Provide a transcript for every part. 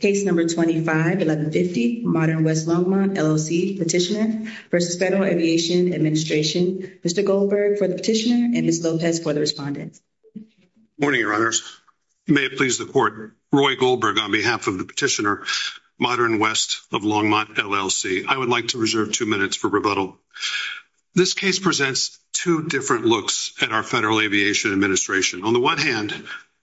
Case No. 25-1150, Modern West Longmont, LLC, Petitioner v. Federal Aviation Administration. Mr. Goldberg for the Petitioner and Ms. Lopez for the Respondent. Good morning, Your Honors. May it please the Court, Roy Goldberg on behalf of the Petitioner, Modern West Longmont, LLC. I would like to reserve two minutes for rebuttal. This case presents two different looks at our Federal Aviation Administration. On the one hand,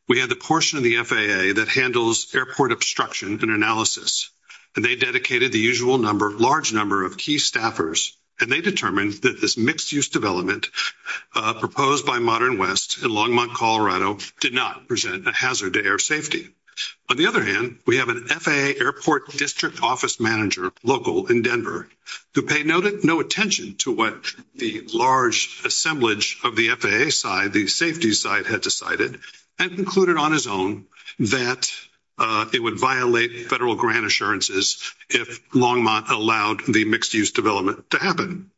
we have the portion of the FAA that handles airport obstruction and analysis, and they dedicated the usual large number of key staffers, and they determined that this mixed-use development proposed by Modern West in Longmont, Colorado, did not present a hazard to air safety. On the other hand, we have an FAA airport district office manager local in Denver who paid no attention to what the large assemblage of the FAA side, the safety side, had decided and concluded on his own that it would violate Federal grant assurances if Longmont allowed the mixed-use development to happen.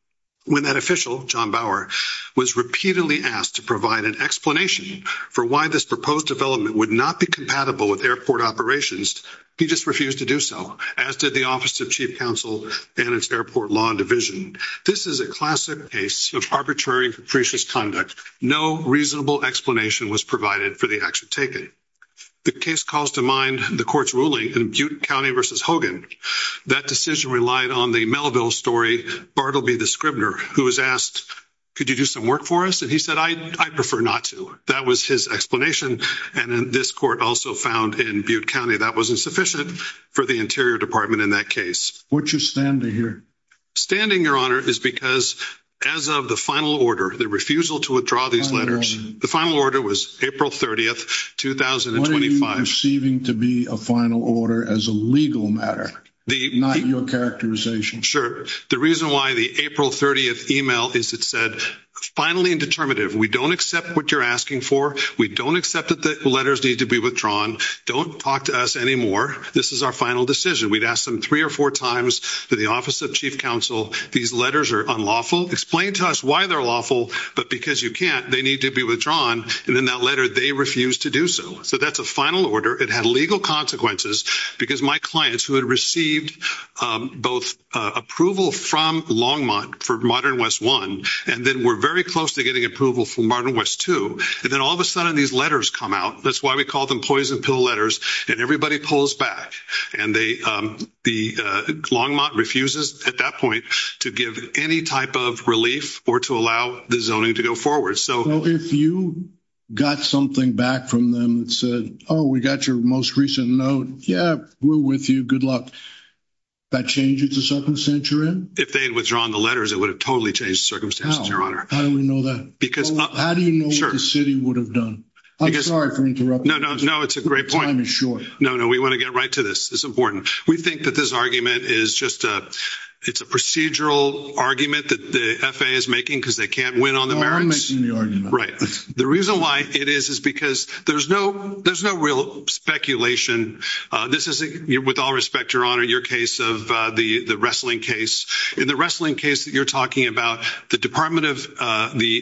When that official, John Bauer, was repeatedly asked to provide an explanation for why this proposed development would not be compatible with airport operations, he just refused to do so, as did the Office of Chief Counsel and its airport law division. This is a classic case of arbitrary and capricious conduct. No reasonable explanation was provided for the action taken. The case calls to mind the court's ruling in Butte County v. Hogan. That decision relied on the Melville story, Bartleby the Scribner, who was asked, could you do some work for us? And he said, I'd prefer not to. That was his explanation, and this court also found in Butte County that was insufficient for the Interior Department in that case. Why aren't you standing here? Standing, Your Honor, is because as of the refusal to withdraw these letters, the final order was April 30th, 2025. What are you perceiving to be a final order as a legal matter, not your characterization? Sure. The reason why the April 30th email is it said, finally and determinative, we don't accept what you're asking for. We don't accept that the letters need to be withdrawn. Don't talk to us anymore. This is our final decision. We'd asked them three or four times to the Office of Chief Counsel. These letters are unlawful. Explain to us why they're lawful, but because you can't, they need to be withdrawn, and in that letter, they refused to do so. So that's a final order. It had legal consequences because my clients who had received both approval from Longmont for Modern West I, and then were very close to getting approval for Modern West II, and then all of a sudden these letters come out. That's why we call them poison pill letters, and everybody pulls back, and the Longmont refuses at that point to give any type of relief or to allow the zoning to go forward. So if you got something back from them that said, oh, we got your most recent note, yeah, we're with you. Good luck. That changes the circumstance you're in? If they'd withdrawn the letters, it would have totally changed circumstances, your honor. How do we know that? Because how do you know what the city would have done? I'm sorry for interrupting. No, no, no, it's a It's important. We think that this argument is just a procedural argument that the FAA is making because they can't win on the merits. Right. The reason why it is is because there's no real speculation. This is, with all respect, your honor, your case of the wrestling case. In the wrestling case that you're talking about, the Department of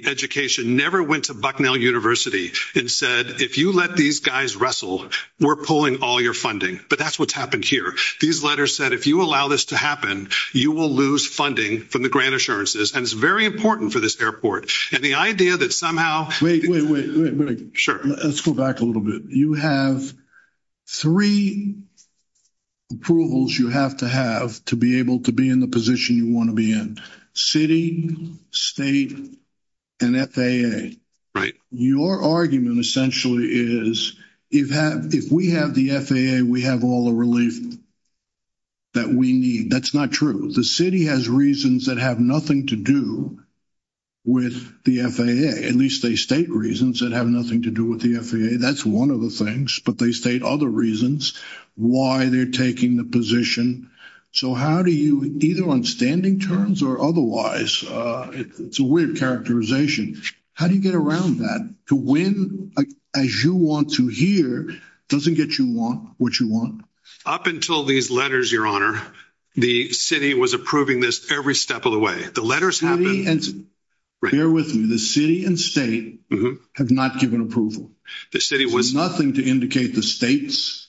Education never went to Bucknell University and said, if you let these guys wrestle, we're pulling all your funding. But that's what's happened here. These letters said, if you allow this to happen, you will lose funding from the grant assurances. And it's very important for this airport. And the idea that somehow... Wait, wait, wait. Sure. Let's go back a little bit. You have three approvals you have to have to be able to be in the position you want to be in, city, state, and FAA. Right. Your argument essentially is, if we have the FAA, we have all the relief that we need. That's not true. The city has reasons that have nothing to do with the FAA. At least they state reasons that have nothing to do with the FAA. That's one of the things. But they state other reasons why they're taking the position. So how do you, either on standing terms or otherwise, it's a weird characterization. How do you get around that? To win, as you want to hear, doesn't get you what you want. Up until these letters, Your Honor, the city was approving this every step of the way. The letters... Bear with me. The city and state have not given approval. The city was... Nothing to indicate the state's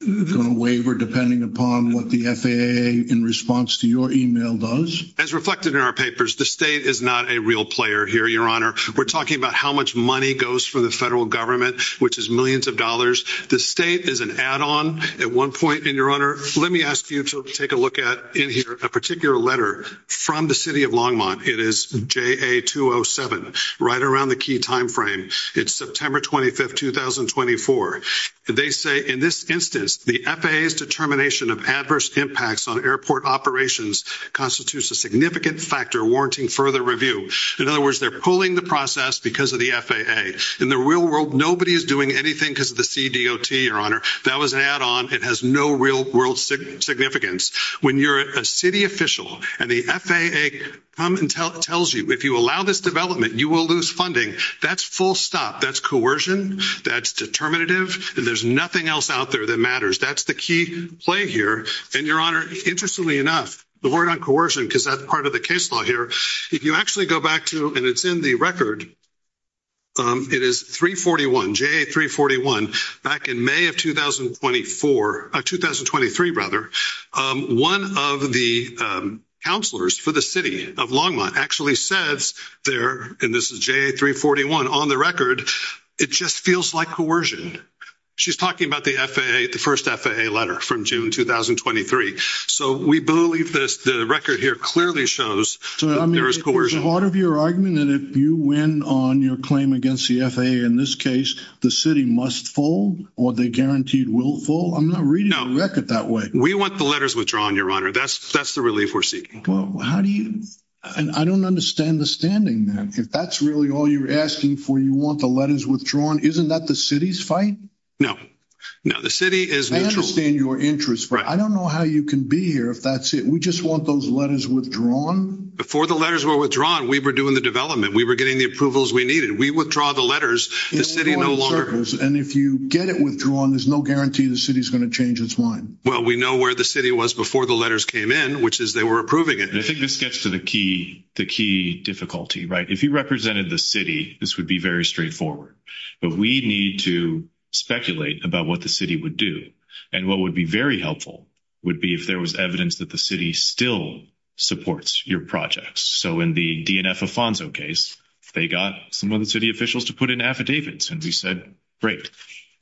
going to waver, depending upon what the FAA, in response to your email, does. As reflected in our papers, the state is not a real player here, Your Honor. We're talking about how much money goes for the federal government, which is millions of dollars. The state is an add-on. At one point in, Your Honor, let me ask you to take a look at, in here, a particular letter from the city of Longmont. It is JA-207, right around the key time frame. It's September 25th, 2024. They say, in this instance, the FAA's determination of adverse impacts on airport operations constitutes a significant factor warranting further review. In other words, they're pulling the process because of the FAA. In the real world, nobody is doing anything because of the CDOT, Your Honor. That was an add-on. It has no real world significance. When you're a city official and the FAA comes and tells you, if you allow this development, you will lose funding, that's full stop. That's coercion, that's determinative, and there's nothing else out there that matters. That's the key play here. And, Your Honor, interestingly enough, the word on coercion, because that's part of the case law here, if you actually go back to, and it's in the record, it is 341, JA-341, back in May of 2024, 2023, rather, one of the counselors for the city of Longmont actually says there, and this is JA-341, on the record, it just feels like coercion. She's talking about the FAA, the first FAA letter from June 2023. So, we believe this, the record here clearly shows that there is coercion. So, I mean, is part of your argument that if you win on your claim against the FAA in this case, the city must fall, or they're guaranteed will fall? I'm not reading the record that way. We want the letters withdrawn, Your Honor. That's the relief we're seeking. Well, how do you, and I don't understand the standing there. If that's really all you're asking for, you want the letters withdrawn. Isn't that the city's fight? No, no, the city is neutral. I understand your interest, but I don't know how you can be here if that's it. We just want those letters withdrawn. Before the letters were withdrawn, we were doing the development. We were getting the approvals we needed. We withdraw the letters, the city no longer. And if you get it withdrawn, there's no guarantee the city's going to change its mind. Well, we know where the city was before the letters came in, which is they were approving it. I think this gets to the key difficulty, right? If you represented the city, this would be very straightforward. But we need to speculate about what the city would do. And what would be very helpful would be if there was evidence that the city still supports your projects. So, in the DNF Afonso case, they got some of the city officials to put in affidavits, and we said, great.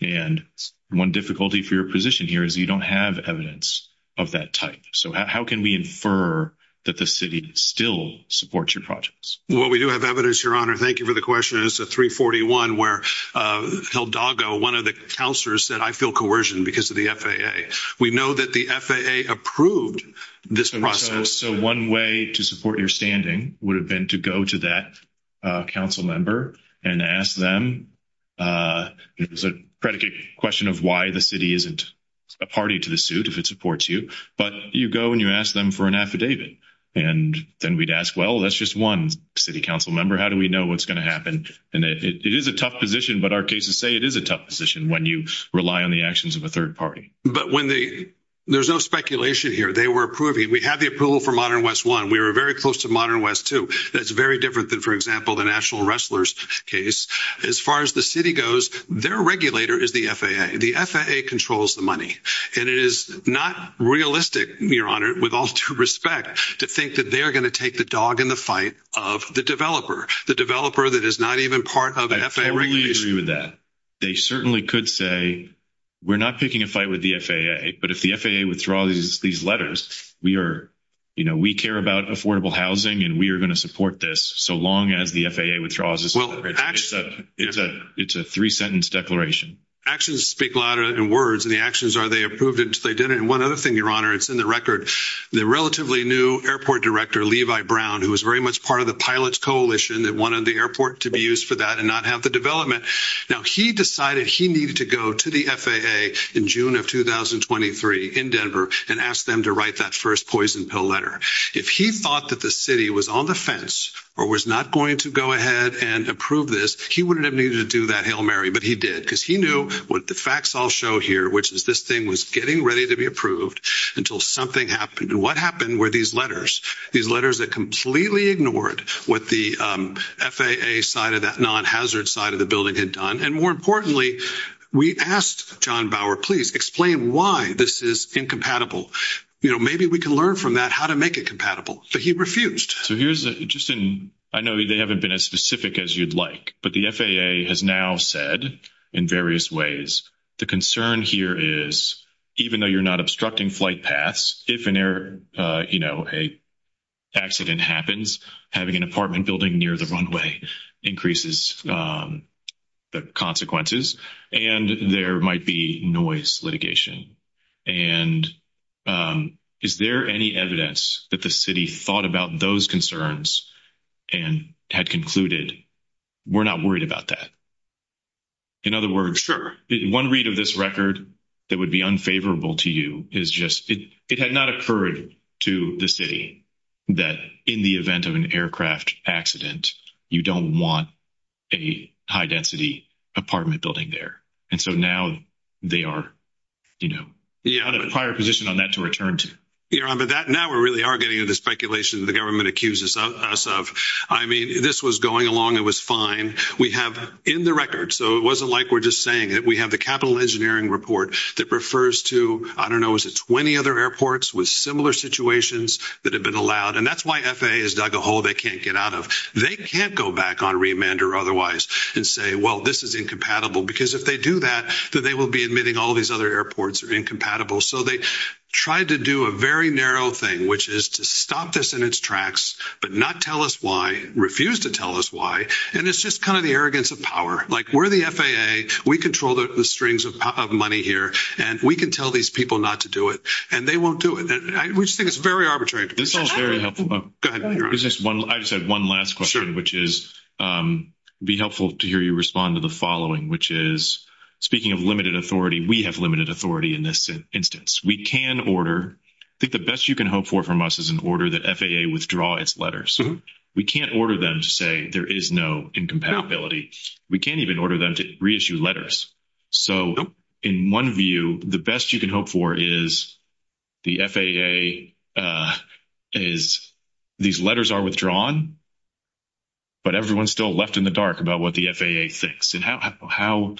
And one difficulty for your position here is you don't have evidence of that type. So, how can we infer that the city still supports your projects? Well, we do have evidence, your honor. Thank you for the question. It's a 341 where Hildago, one of the counselors said, I feel coercion because of the FAA. We know that the FAA approved this process. So, one way to support your standing would have been to go to that council member and ask them, it was a predicate question of why the city isn't a party to the suit if it supports you, but you go and you ask them for an affidavit. And then we'd ask, well, that's just one city council member. How do we know what's going to happen? And it is a tough position, but our cases say it is a tough position when you rely on the actions of a third party. But there's no speculation here. They were approving. We have the approval for Modern West 1. We were very close to Modern West 2. That's very different than, for example, the National Wrestlers case. As far as the city goes, their regulator is the FAA. The FAA controls the money. And it is not realistic, your honor, with all due respect, to think that they are going to take the dog in the fight of the developer, the developer that is not even part of the FAA regulation. I totally agree with that. They certainly could say, we're not picking a fight with the FAA, but if the FAA withdraws these letters, we care about affordable housing and we support this so long as the FAA withdraws this. It's a three-sentence declaration. Actions speak louder than words, and the actions are they approved until they did it. And one other thing, your honor, it's in the record. The relatively new airport director, Levi Brown, who was very much part of the pilots coalition that wanted the airport to be used for that and not have the development, now he decided he needed to go to the FAA in June of 2023 in Denver and ask them to write that first poison pill letter. If he thought that the city was on the fence or was not going to go ahead and approve this, he wouldn't have needed to do that, Hail Mary, but he did because he knew what the facts all show here, which is this thing was getting ready to be approved until something happened. And what happened were these letters, these letters that completely ignored what the FAA side of that non-hazard side of the building had done. And more importantly, we asked John Bauer, please explain why this is incompatible. You know, maybe we can learn from that how to make it compatible, but he refused. So here's just, I know they haven't been as specific as you'd like, but the FAA has now said in various ways, the concern here is even though you're not obstructing flight paths, if an error, you know, an accident happens, having an apartment building near the runway increases the consequences and there might be noise litigation. And is there any evidence that the city thought about those concerns and had concluded, we're not worried about that? In other words, one read of this record that would be unfavorable to you is just, it had not occurred to the city that in the event of an aircraft accident, you don't want a high density apartment building there. And so now they are, you know, in a prior position on that to return to. Now we really are getting into the speculation that the government accuses us of. I mean, this was going along, it was fine. We have in the record, so it wasn't like we're just saying it, we have the capital engineering report that refers to, I don't know, is it 20 other airports with similar situations that have been allowed? And that's why FAA has dug a hole they can't get out of. They can't go back on remand or otherwise and say, well, this is incompatible. Because if they do that, then they will be admitting all these other airports are incompatible. So they tried to do a very narrow thing, which is to stop this in its tracks, but not tell us why, refuse to tell us why. And it's just kind of the arrogance of power. Like we're the FAA, we control the strings of money here, and we can tell these people not to do it, and they won't do it. We just think it's very arbitrary. This is all very helpful. I just have one last question, which is, be helpful to hear you respond to the following, which is, speaking of limited authority, we have order, I think the best you can hope for from us is an order that FAA withdraw its letters. We can't order them to say there is no incompatibility. We can't even order them to reissue letters. So in one view, the best you can hope for is the FAA is, these letters are withdrawn, but everyone's still left in the dark about what the FAA thinks. And how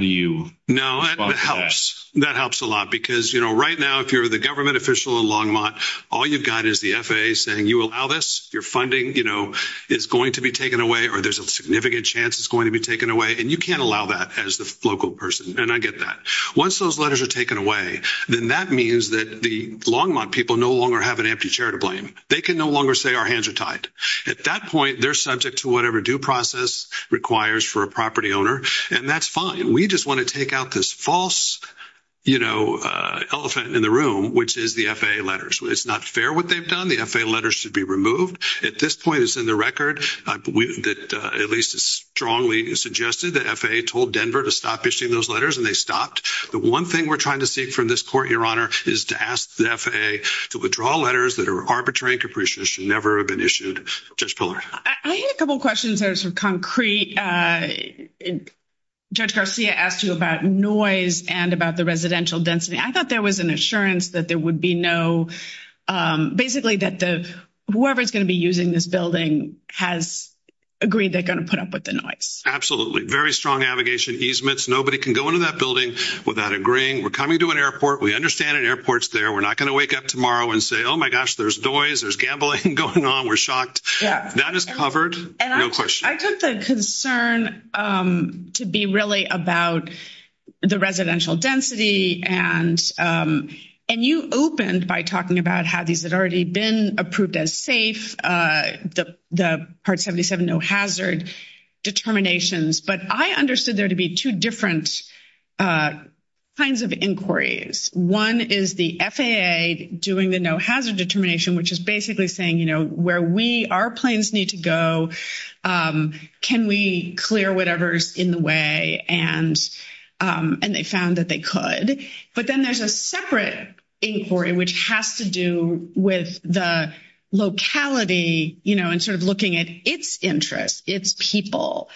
do you? No, that helps. That helps a lot because right now, if you're the government official in Longmont, all you've got is the FAA saying, you allow this, your funding is going to be taken away, or there's a significant chance it's going to be taken away. And you can't allow that as the local person. And I get that. Once those letters are taken away, then that means that the Longmont people no longer have an empty chair to blame. They can no longer say our hands are tied. At that point, they're subject to whatever due process requires for a property owner. And that's fine. We just want to take out this false elephant in the room, which is the FAA letters. It's not fair what they've done. The FAA letters should be removed. At this point, it's in the record that at least it's strongly suggested that FAA told Denver to stop issuing those letters and they stopped. The one thing we're trying to seek from this court, Your Honor, is to ask the FAA to withdraw letters that are arbitrary and capricious and never have been issued. Judge Garcia asked you about noise and about the residential density. I thought there was an assurance that there would be no, basically that whoever's going to be using this building has agreed they're going to put up with the noise. Absolutely. Very strong navigation easements. Nobody can go into that building without agreeing. We're coming to an airport. We understand an airport's there. We're not going to wake up tomorrow and say, oh my gosh, there's noise, there's gambling going on. We're shocked. That is covered. No question. I took the concern to be really about the residential density. You opened by talking about how these had already been approved as safe, the Part 77 no hazard determinations. I understood there to be two different kinds of inquiries. One is the FAA doing the no hazard determination, which is basically saying where our planes need to go, can we clear whatever's in the way? They found that they could. But then there's a separate inquiry, which has to do with the locality and looking at its interest, its people,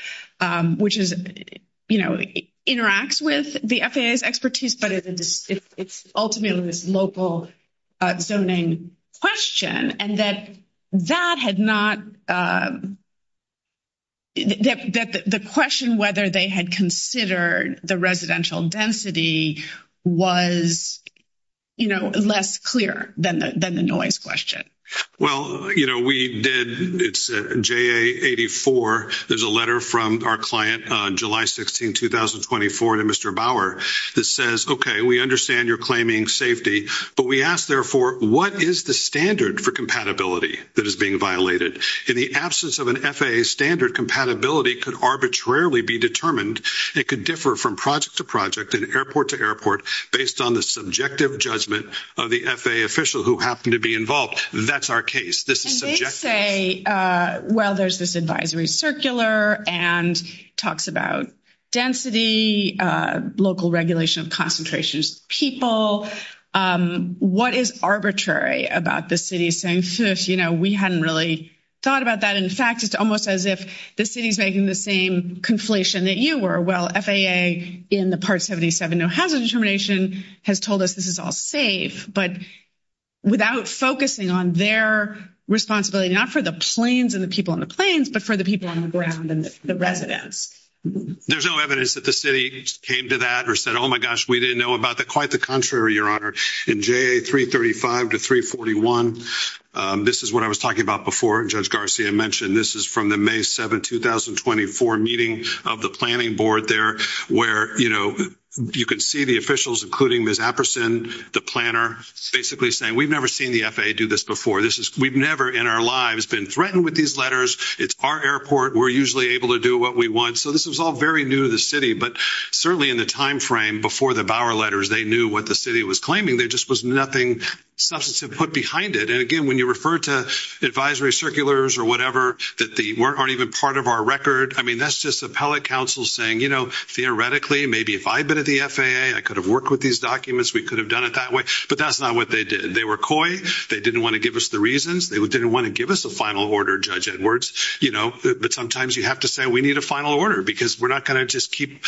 which interacts with the FAA's expertise, but it's ultimately this local zoning question and that that had not the question whether they had considered the residential density was less clear than the noise question. Well, you know, we did it's a JA84. There's a letter from our client on July 16, 2024 to Mr. Bauer that says, okay, we understand you're claiming safety, but we asked therefore, what is the standard for compatibility that is being violated? In the absence of an FAA standard, compatibility could arbitrarily be determined. It could differ from project to project and airport to airport based on the subjective judgment of the FAA official who happened to be involved. That's our case. This is subjective. They say, well, there's this advisory circular and talks about density, local regulation of concentrations, people. What is arbitrary about the city saying, you know, we hadn't really thought about that. In fact, it's almost as if the city's making the same conflation that you were. Well, FAA in the part 77 no hazard determination has told us this is all safe, but without focusing on their responsibility, not for the planes and the people on the planes, but for the people on the ground and the residents. There's no evidence that the city came to that or said, oh my gosh, we didn't know about that. Quite the contrary, your honor. In JA335 to 341, this is what I was talking about before. Judge Garcia mentioned this is from the May 7, 2024 meeting of the planning board there where, you know, you can see the officials, including Ms. the planner, basically saying we've never seen the FAA do this before. We've never in our lives been threatened with these letters. It's our airport. We're usually able to do what we want. So this was all very new to the city, but certainly in the time frame before the Bauer letters, they knew what the city was claiming. There just was nothing substantive put behind it. And again, when you refer to advisory circulars or whatever that aren't even part of our record, I mean, that's just appellate counsel saying, you know, theoretically, maybe if I had been at the FAA, I could have worked with these documents. We could have done it that way. But that's not what they did. They were coy. They didn't want to give us the reasons. They didn't want to give us a final order, Judge Edwards, you know, but sometimes you have to say we need a final order because we're not going to just keep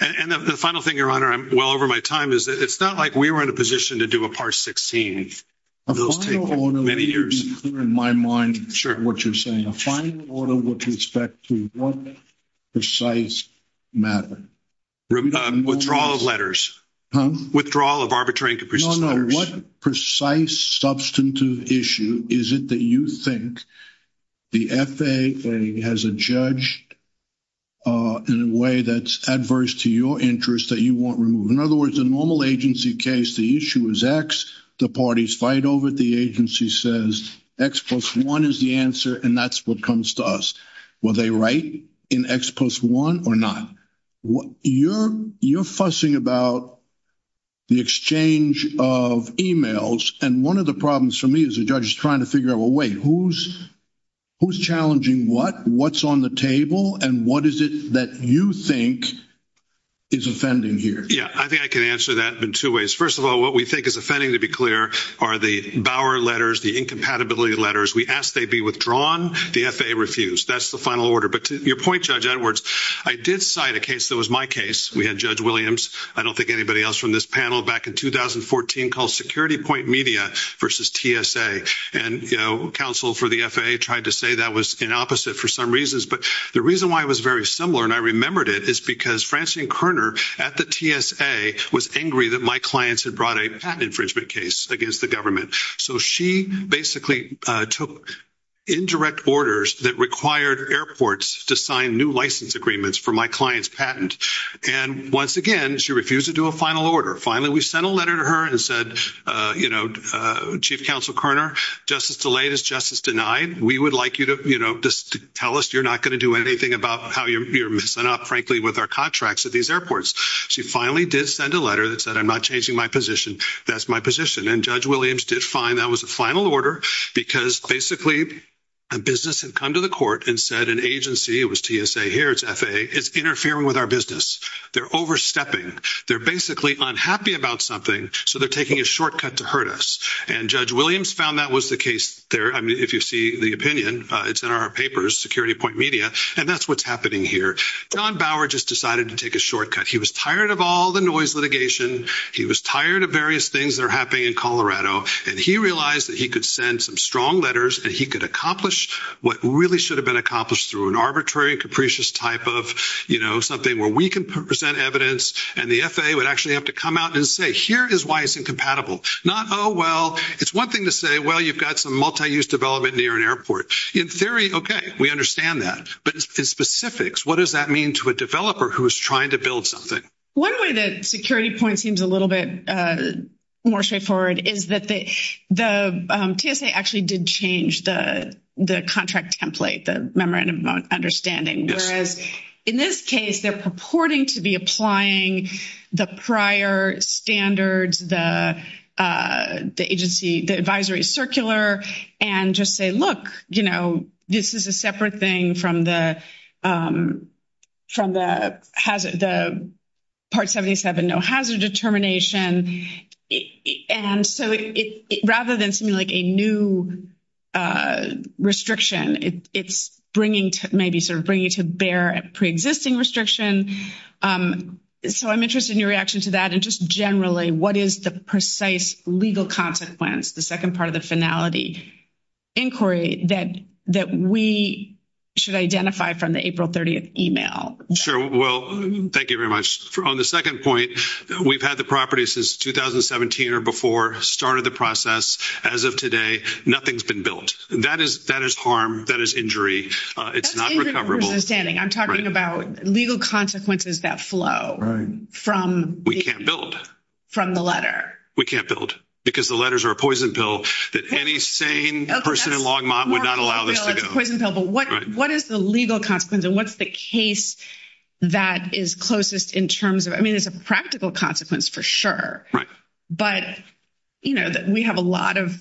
and the final thing, your honor, I'm well over my time is it's not like we were in a position to do a part 16 of those many years in my mind. Sure. What you're saying with respect to one precise matter. Withdrawal of letters. Huh? Withdrawal of arbitration. What precise substantive issue is it that you think the FAA has a judge in a way that's adverse to your interest that you want removed? In other words, a normal agency case, the issue is X, the parties fight over it, the agency says X plus one is the answer and that's what comes to us. Were they right in X plus one or not? You're fussing about the exchange of emails. And one of the problems for me as a judge is trying to figure out, well, wait, who's challenging what? What's on the table? And what is it that you think is offending here? Yeah, I think I can to be clear are the Bauer letters, the incompatibility letters. We asked they be withdrawn. The FAA refused. That's the final order. But to your point, Judge Edwards, I did cite a case that was my case. We had Judge Williams. I don't think anybody else from this panel back in 2014 called security point media versus TSA and counsel for the FAA tried to say that was an opposite for some reasons. But the reason why it was very similar and I remembered it is because Francine Kerner at the TSA was angry that my clients had brought a patent infringement case against the government. So she basically took indirect orders that required airports to sign new license agreements for my client's patent. And once again, she refused to do a final order. Finally, we sent a letter to her and said, you know, Chief Counsel Kerner, justice delayed is justice denied. We would like you to tell us you're not going to do anything about how you're missing up frankly with our contracts at these airports. She finally did send a letter that said I'm not changing my position. That's my position. And Judge Williams did find that was a final order because basically a business had come to the court and said an agency, it was TSA here, it's FAA, is interfering with our business. They're overstepping. They're basically unhappy about something. So they're taking a shortcut to hurt us. And Judge Williams found that was the case there. I mean, if you see the opinion, it's in our papers, security point and that's what's happening here. John Bauer just decided to take a shortcut. He was tired of all the noise litigation. He was tired of various things that are happening in Colorado. And he realized that he could send some strong letters and he could accomplish what really should have been accomplished through an arbitrary and capricious type of, you know, something where we can present evidence and the FAA would actually have to come out and say, here is why it's incompatible. Not, oh, well, it's one thing to say, well, you've got some multi-use development near an airport. In theory, okay, we understand that. But in specifics, what does that mean to a developer who is trying to build something? One way that security point seems a little bit more straightforward is that the TSA actually did change the contract template, the memorandum of understanding. Whereas in this case, they're purporting to be applying the prior standards, the agency, the advisory circular and just say, look, you know, this is a separate thing from the part 77, no hazard determination. And so, rather than seeming like a new restriction, it's bringing to maybe sort of bringing to bear a preexisting restriction. So, I'm interested in your reaction to that. And just generally, what is the precise legal consequence, the second part of the finality inquiry that we should identify from the April 30th email? Sure. Well, thank you very much. On the second point, we've had the property since 2017 or before, started the process. As of today, nothing's been built. That is harm, that is injury. It's not recoverable. I'm talking about legal consequences that flow. We can't build. From the letter. We can't build because the letters are a poison pill that any sane person in Longmont would not allow this to go. But what is the legal consequence and what's the case that is closest in terms of, I mean, there's a practical consequence for sure. But, you know, we have a lot of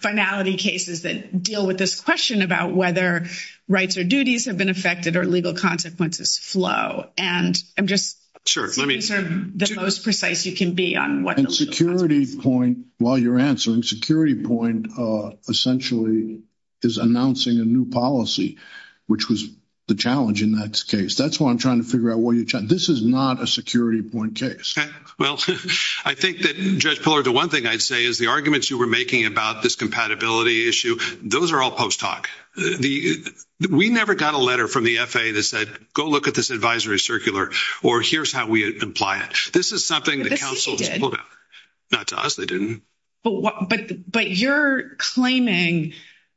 finality cases that deal with this question about whether rights or duties have been affected or legal consequences flow. And I'm just the most precise you can be on what the legal consequences are. And security point, while you're answering, security point essentially is announcing a new policy, which was the challenge in that case. That's what I'm trying to figure out. This is not a security point case. Well, I think that Judge Pillar, the one thing I'd say is the arguments you were making about this compatibility issue, those are all post-hoc. We never got a letter from the FAA that said, go look at this advisory circular, or here's how we apply it. This is something the council has pulled out. Not to us, they didn't. But you're claiming,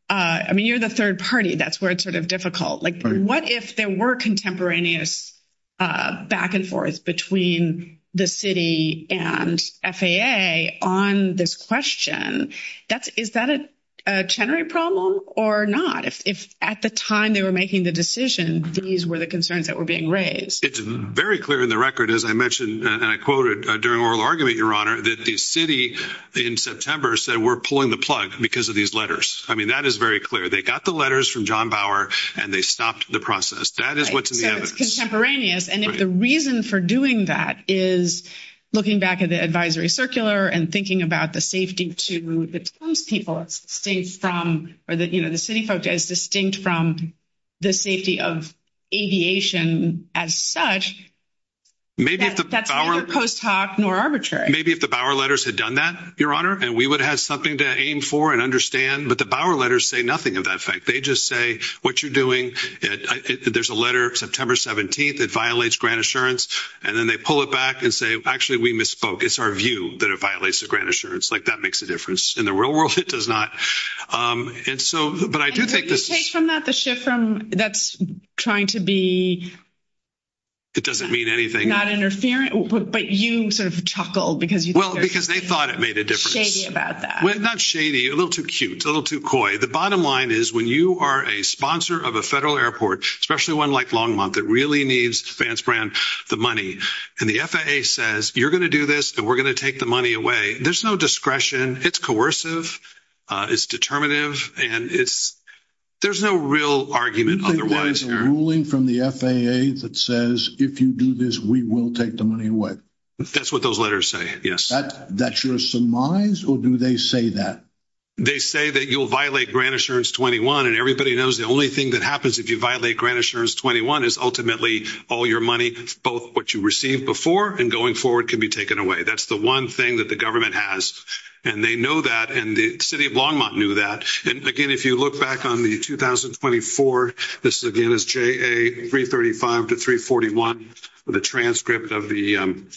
I mean, you're the third party. That's where it's sort of difficult. Like what if there were contemporaneous back and forth between the city and FAA on this question? Is that a generic problem or not? If at the time they were making the decision, these were the concerns that were being raised. It's very clear in the record, as I mentioned, and I quoted during oral argument, Your Honor, that the city in September said, we're pulling the plug because of these letters. I mean, that is very clear. They got the letters from John Bauer and they stopped the process. That is what's in the evidence. So it's contemporaneous. And if the reason for doing that is looking back at the advisory circular and thinking about the safety to the Toms people, it's distinct from, or the city folks, it's distinct from the safety of aviation as such, that's neither post-hoc nor arbitrary. Maybe if the Bauer letters had done that, Your Honor, and we would have something to aim for and understand, but the Bauer letters say nothing of that effect. They just say what you're doing. There's a letter, September 17th, that violates grant assurance. And then they pull it back and say, actually, we misspoke. It's our view that it violates the grant assurance. Like that makes a difference. In the real world, it does not. And so, but I do think this... And where do you take from that, the shift from that's trying to be... It doesn't mean anything. Not interfering, but you sort of chuckled because you... Well, because they thought it made a difference. Shady about that. Not shady, a little too cute, a little too coy. The bottom line is when you are a sponsor of a federal airport, especially one like Longmont, that really needs Fanspran, the money, and the FAA says, you're going to do this and we're going to take the money away. There's no discretion. It's coercive, it's determinative, and there's no real argument otherwise. Do you think there's a ruling from the FAA that says, if you do this, we will take the money away? That's what those letters say, yes. That's your surmise, or do they say that? They say that you'll violate Grant Assurance 21. And everybody knows the only thing that happens if you violate Grant Assurance 21 is ultimately all your money, both what you received before and going forward can be taken away. That's the one thing that the government has. And they know that, and the city of Longmont knew that. And again, if you look back on the 2024, this again is JA 335 to 341, the transcript of the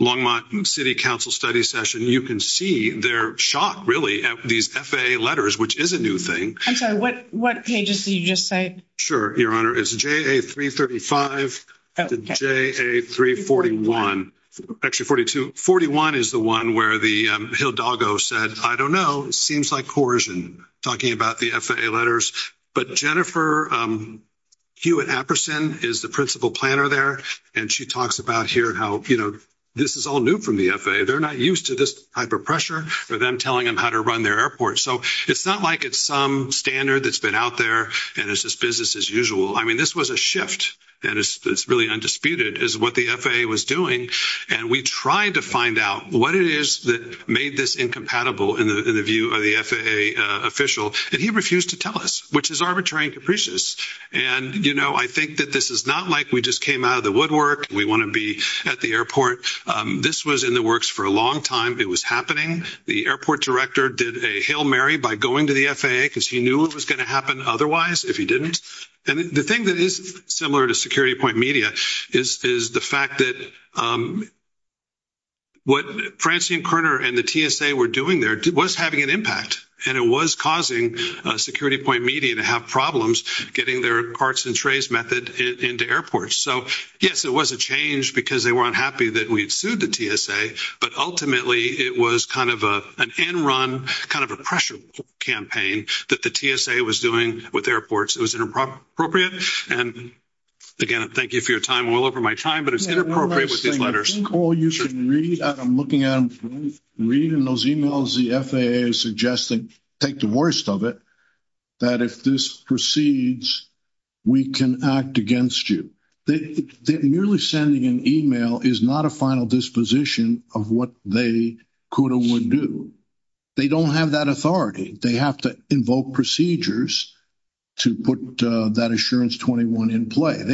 Longmont City Council study session, you can see their shock, really, at these FAA letters, which is a new thing. I'm sorry, what pages did you just say? Sure, Your Honor. It's JA 335 to JA 341. Actually, 41 is the one where the Hildago said, I don't know, it seems like coercion, talking about the FAA letters. But Jennifer Hewitt-Apperson is the principal planner there. And she talks about here how, you know, this is all new from the FAA. They're not used to this type of pressure for them telling them how to run their airport. So it's not like it's some standard that's been out there. And it's just business as usual. I mean, this was a shift. And it's really is what the FAA was doing. And we tried to find out what it is that made this incompatible in the view of the FAA official. And he refused to tell us, which is arbitrary and capricious. And, you know, I think that this is not like we just came out of the woodwork. We want to be at the airport. This was in the works for a long time. It was happening. The airport director did a Hail Mary by going to the FAA because he knew it was going to happen otherwise if he didn't. And the thing that is similar to Security Point Media is the fact that what Francine Kerner and the TSA were doing there was having an impact. And it was causing Security Point Media to have problems getting their carts and trays method into airports. So, yes, it was a change because they weren't happy that we had sued the TSA. But ultimately, it was kind of an end run, kind of a pressure campaign that the TSA was doing with airports. It was inappropriate. And, again, thank you for your time. I'm well over my time, but it's inappropriate with these letters. I think all you should read, I'm looking at them, read in those emails the FAA is suggesting, take the worst of it, that if this proceeds, we can act against you. Merely sending an email is not a final disposition of what they could or procedures to put that Assurance 21 in play.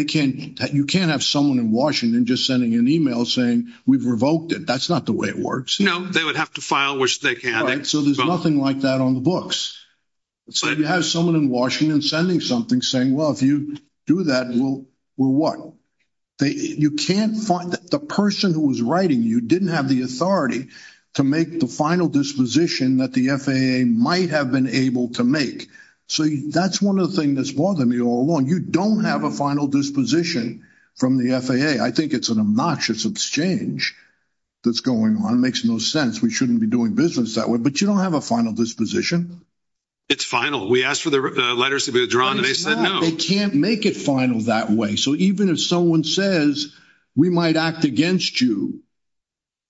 You can't have someone in Washington just sending an email saying we've revoked it. That's not the way it works. No, they would have to file which they can. So, there's nothing like that on the books. So, you have someone in Washington sending something saying, well, if you do that, we'll what? You can't find the person who was writing you didn't have the authority to make the final disposition that the FAA might have been able to So, that's one of the things that's bothered me all along. You don't have a final disposition from the FAA. I think it's an obnoxious exchange that's going on. It makes no sense. We shouldn't be doing business that way, but you don't have a final disposition. It's final. We asked for the letters to be withdrawn and they said no. They can't make it final that way. So, even if someone says we might act against you,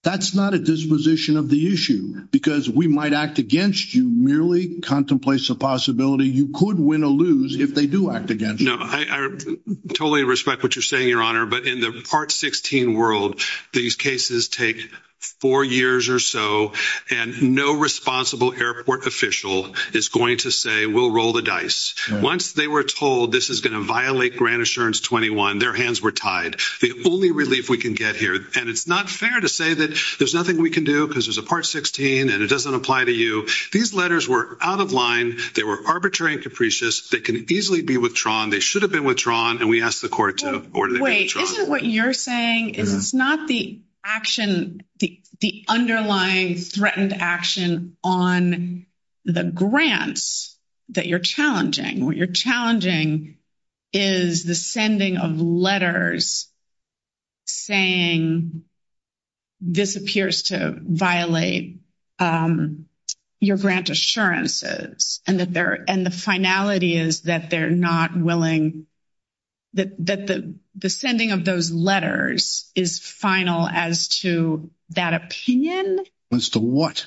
that's not a disposition of the issue because we might act you merely contemplate the possibility you could win or lose if they do act against you. No, I totally respect what you're saying, your honor, but in the part sixteen world, these cases take four years or so and no responsible airport official is going to say we'll roll the dice. Once they were told this is going to violate Grant Assurance 21, their hands were tied. The only relief we can get here and it's not fair to say that there's nothing we can do because there's a part sixteen and it doesn't apply to you. These letters were out of line. They were arbitrary and capricious. They can easily be withdrawn. They should have been withdrawn and we asked the court to wait. Isn't what you're saying is it's not the action, the underlying threatened action on the grants that you're challenging? What you're challenging is the sending of letters saying this appears to violate your grant assurances and the finality is that they're not willing that the sending of those letters is final as to that opinion. As to what?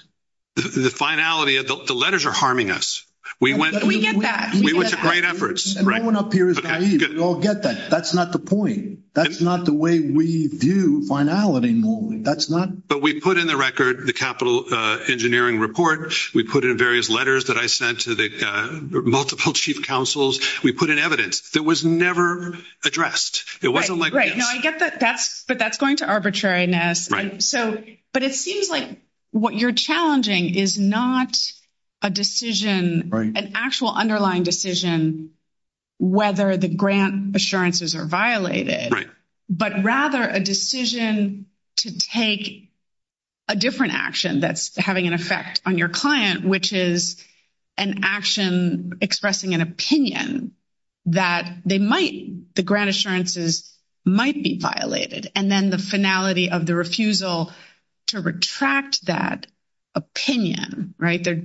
The finality of the letters are harming us. We went to great efforts. No one up here is naive. We all get that. That's not the point. That's not the way we view finality normally. But we put in the record the capital engineering report. We put in various letters that I sent to the multiple chief counsels. We put in evidence that was never addressed. It wasn't like, I get that, but that's going to arbitrariness. So, but it seems like what you're challenging is not a decision, an actual underlying decision, whether the grant assurances are violated, but rather a decision to take a different action that's having an effect on your client, which is an action expressing an opinion that they might, the grant assurances might be violated. And then the finality of the refusal to retract that opinion.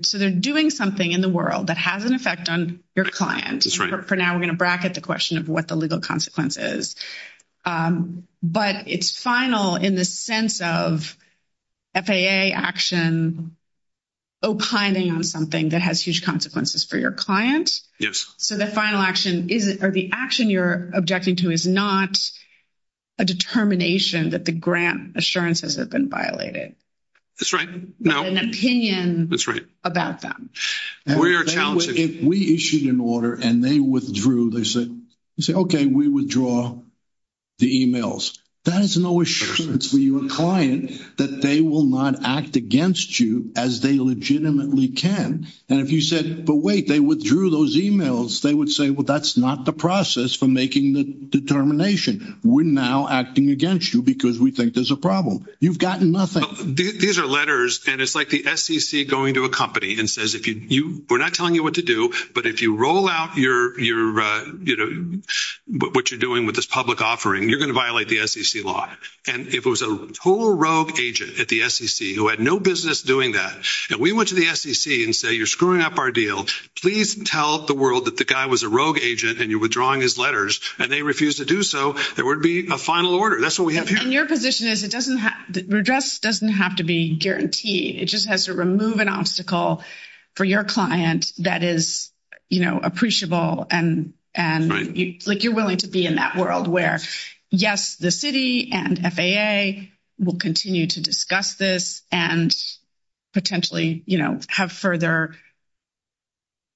So they're doing something in the world that has an effect on your client. For now, we're going to bracket the question of what the legal consequence is. But it's final in the sense of FAA action opining on something that has huge consequences for your client. So the final action is, or the action you're objecting to is not a determination that the grant assurances have been violated. That's right. An opinion about them. We are challenging. If we issued an order and they withdrew, they said, okay, we withdraw the emails. That is no assurance for your client that they will not act against you as they legitimately can. And if you said, but wait, they withdrew those emails. They would say, well, that's not the process for making the determination. We're now acting against you because we think there's a problem. You've gotten nothing. These are letters. And it's like the SEC going to a company and says, we're not telling you what to do, but if you roll out what you're doing with this public offering, you're going to violate the SEC law. And if it was a total rogue agent at the SEC who had no doing that, and we went to the SEC and say, you're screwing up our deal. Please tell the world that the guy was a rogue agent and you're withdrawing his letters and they refuse to do so. There would be a final order. That's what we have here. And your position is it doesn't have to be guaranteed. It just has to remove an obstacle for your client that is appreciable. And you're willing to be in that world where yes, the city and FAA will continue to discuss this. And potentially, you know, have further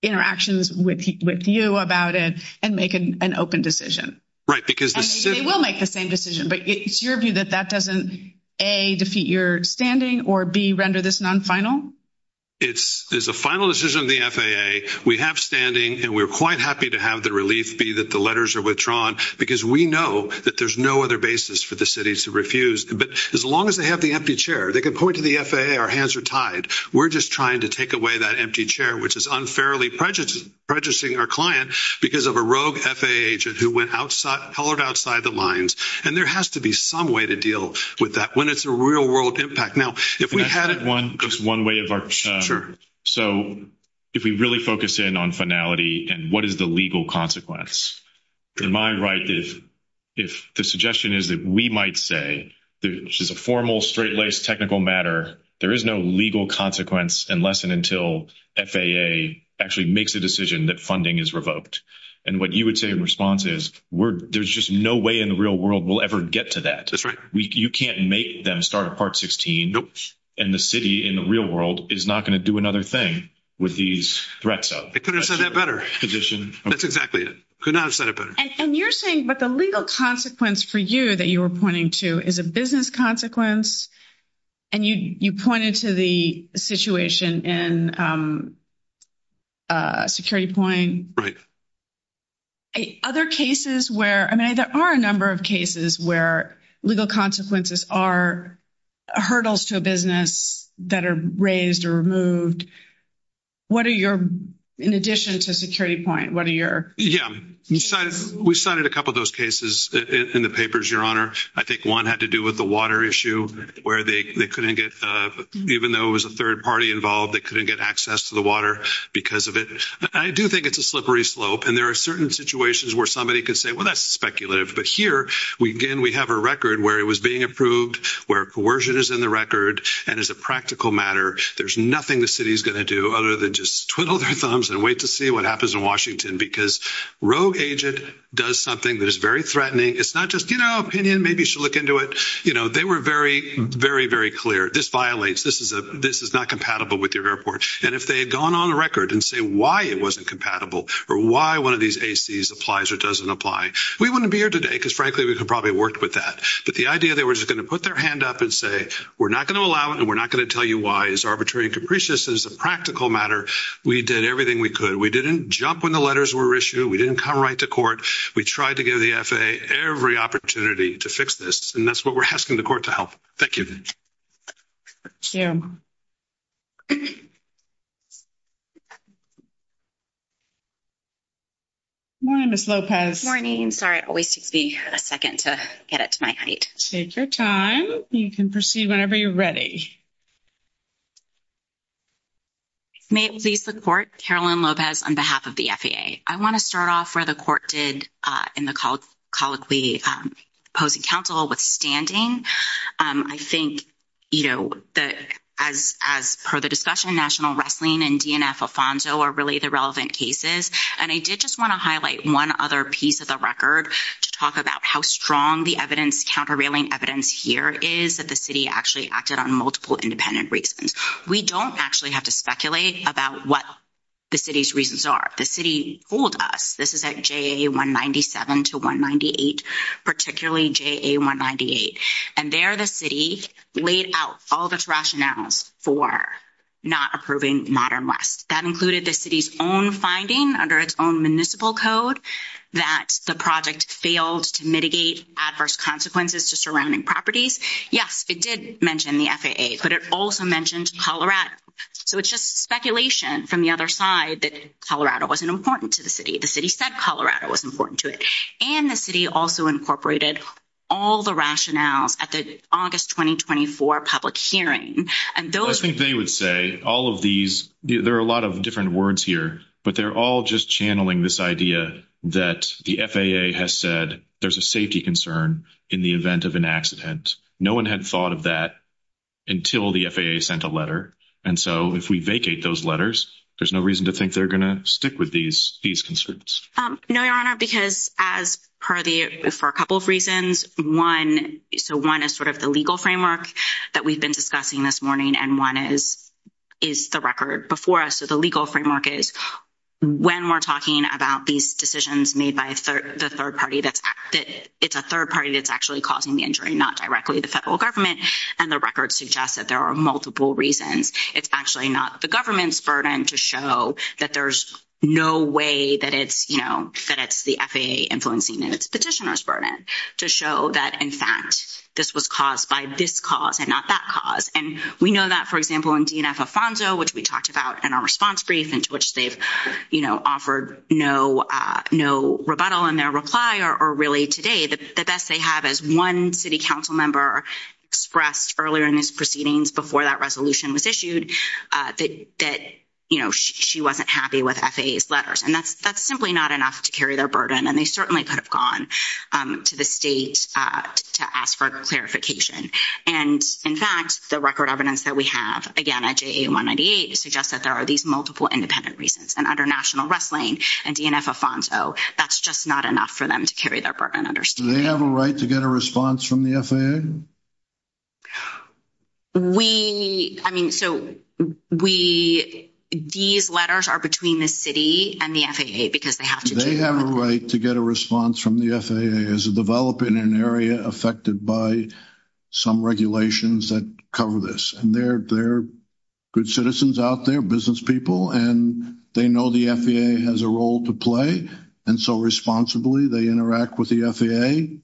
interactions with you about it and make an open decision. Right. Because they will make the same decision. But it's your view that that doesn't A, defeat your standing or B, render this non-final. It's a final decision of the FAA. We have standing and we're quite happy to have the relief B, that the letters are withdrawn because we know that there's no other basis for the city to refuse. But as long as they have the chair, they can point to the FAA, our hands are tied. We're just trying to take away that empty chair, which is unfairly prejudiced, prejudicing our client because of a rogue FAA agent who went outside, hollered outside the lines. And there has to be some way to deal with that when it's a real world impact. Now, if we had one, just one way of our, sure. So if we really focus in on finality and what is the legal consequence, in my right, if, if the suggestion is that we might say this is a formal, straight-laced technical matter, there is no legal consequence unless and until FAA actually makes a decision that funding is revoked. And what you would say in response is, we're, there's just no way in the real world we'll ever get to that. That's right. You can't make them start a part 16 and the city in the real world is not going to do another thing with these threats. I could have said that better. That's exactly it. Could not have said it better. And and you, you pointed to the situation in Security Point. Right. Other cases where, I mean, there are a number of cases where legal consequences are hurdles to a business that are raised or removed. What are your, in addition to Security Point, what are your? Yeah. We cited a couple of those in the papers, your honor. I think one had to do with the water issue where they couldn't get, even though it was a third party involved, they couldn't get access to the water because of it. I do think it's a slippery slope and there are certain situations where somebody could say, well, that's speculative. But here we, again, we have a record where it was being approved, where coercion is in the record. And as a practical matter, there's nothing the city's going to do other than just twiddle their thumbs and wait to see what happens in Washington because rogue agent does something that is very threatening. It's not just, you know, opinion, maybe you should look into it. You know, they were very, very, very clear. This violates, this is a, this is not compatible with your airport. And if they had gone on record and say why it wasn't compatible or why one of these ACs applies or doesn't apply, we wouldn't be here today because frankly, we could probably work with that. But the idea they were just going to put their hand up and say, we're not going to allow it and we're not going to tell you why it's arbitrary and capricious as a practical matter. We did everything we could. We didn't jump when the letters were issued. We didn't come right to court. We tried to give the FAA every opportunity to fix this. And that's what we're asking the court to help. Thank you. Morning, Ms. Lopez. Morning. Sorry, it always takes me a second to get it to my height. Take your time. You can proceed whenever you're ready. May it please the court, Carolyn Lopez on behalf of the FAA. I want to start off where the court did in the colloquy opposing counsel withstanding. I think, you know, as per the discussion, National Wrestling and DNF Alfonso are really the relevant cases. And I did just want to highlight one other piece of the record to talk about how strong the evidence, countervailing evidence here is that the city actually acted on multiple independent reasons. We don't actually have to speculate about what the city's reasons are. The city fooled us. This is at JA 197 to 198, particularly JA 198. And there the city laid out all the rationales for not approving Modern West. That included the city's own finding under its own municipal code that the project failed to mitigate adverse consequences to surrounding properties. Yes, it did mention the FAA, but it also mentioned Colorado. So it's just speculation from the other side that Colorado wasn't important to the city. The city said Colorado was important to it. And the city also incorporated all the rationales at the August 2024 public hearing. And I think they would say all of these, there are a lot of different words here, but they're all just channeling this idea that the FAA has said there's a safety concern in the event of an accident. No one had thought of that until the FAA sent a letter. And so if we vacate those letters, there's no reason to think they're going to stick with these conscripts. No, Your Honor, because as per the, for a couple of reasons, one, so one is sort of the legal framework that we've been discussing this morning. And one is the record before us. So the legal framework is when we're talking about these decisions made by the third party, that it's a third party that's actually causing the injury, not directly the federal government. And the record suggests that there are multiple reasons. It's actually not the government's burden to show that there's no way that it's, you know, that it's the FAA influencing and it's petitioner's burden to show that in fact, this was caused by this cause and not that cause. And we know that, for example, in DNF Alfonso, which we talked about in our response brief into which they've, you know, offered no rebuttal in their reply or really today, the best they have as one city council member expressed earlier in his proceedings before that resolution was issued that, you know, she wasn't happy with FAA's letters. And that's simply not enough to carry their burden. And they certainly could have gone to the state to ask for clarification. And in fact, the record evidence that we have again at JA198 suggests that there are these multiple independent reasons and under national wrestling and DNF Alfonso, that's just not enough for them to carry their burden. Do they have a right to get a response from the FAA? We, I mean, so we, these letters are between the city and the FAA because they have to. They have a right to get a response from the FAA as a developer in an area affected by some regulations that cover this. And they're good citizens out there, business people, and they know the FAA has a role to play. And so responsibly, they interact with the FAA.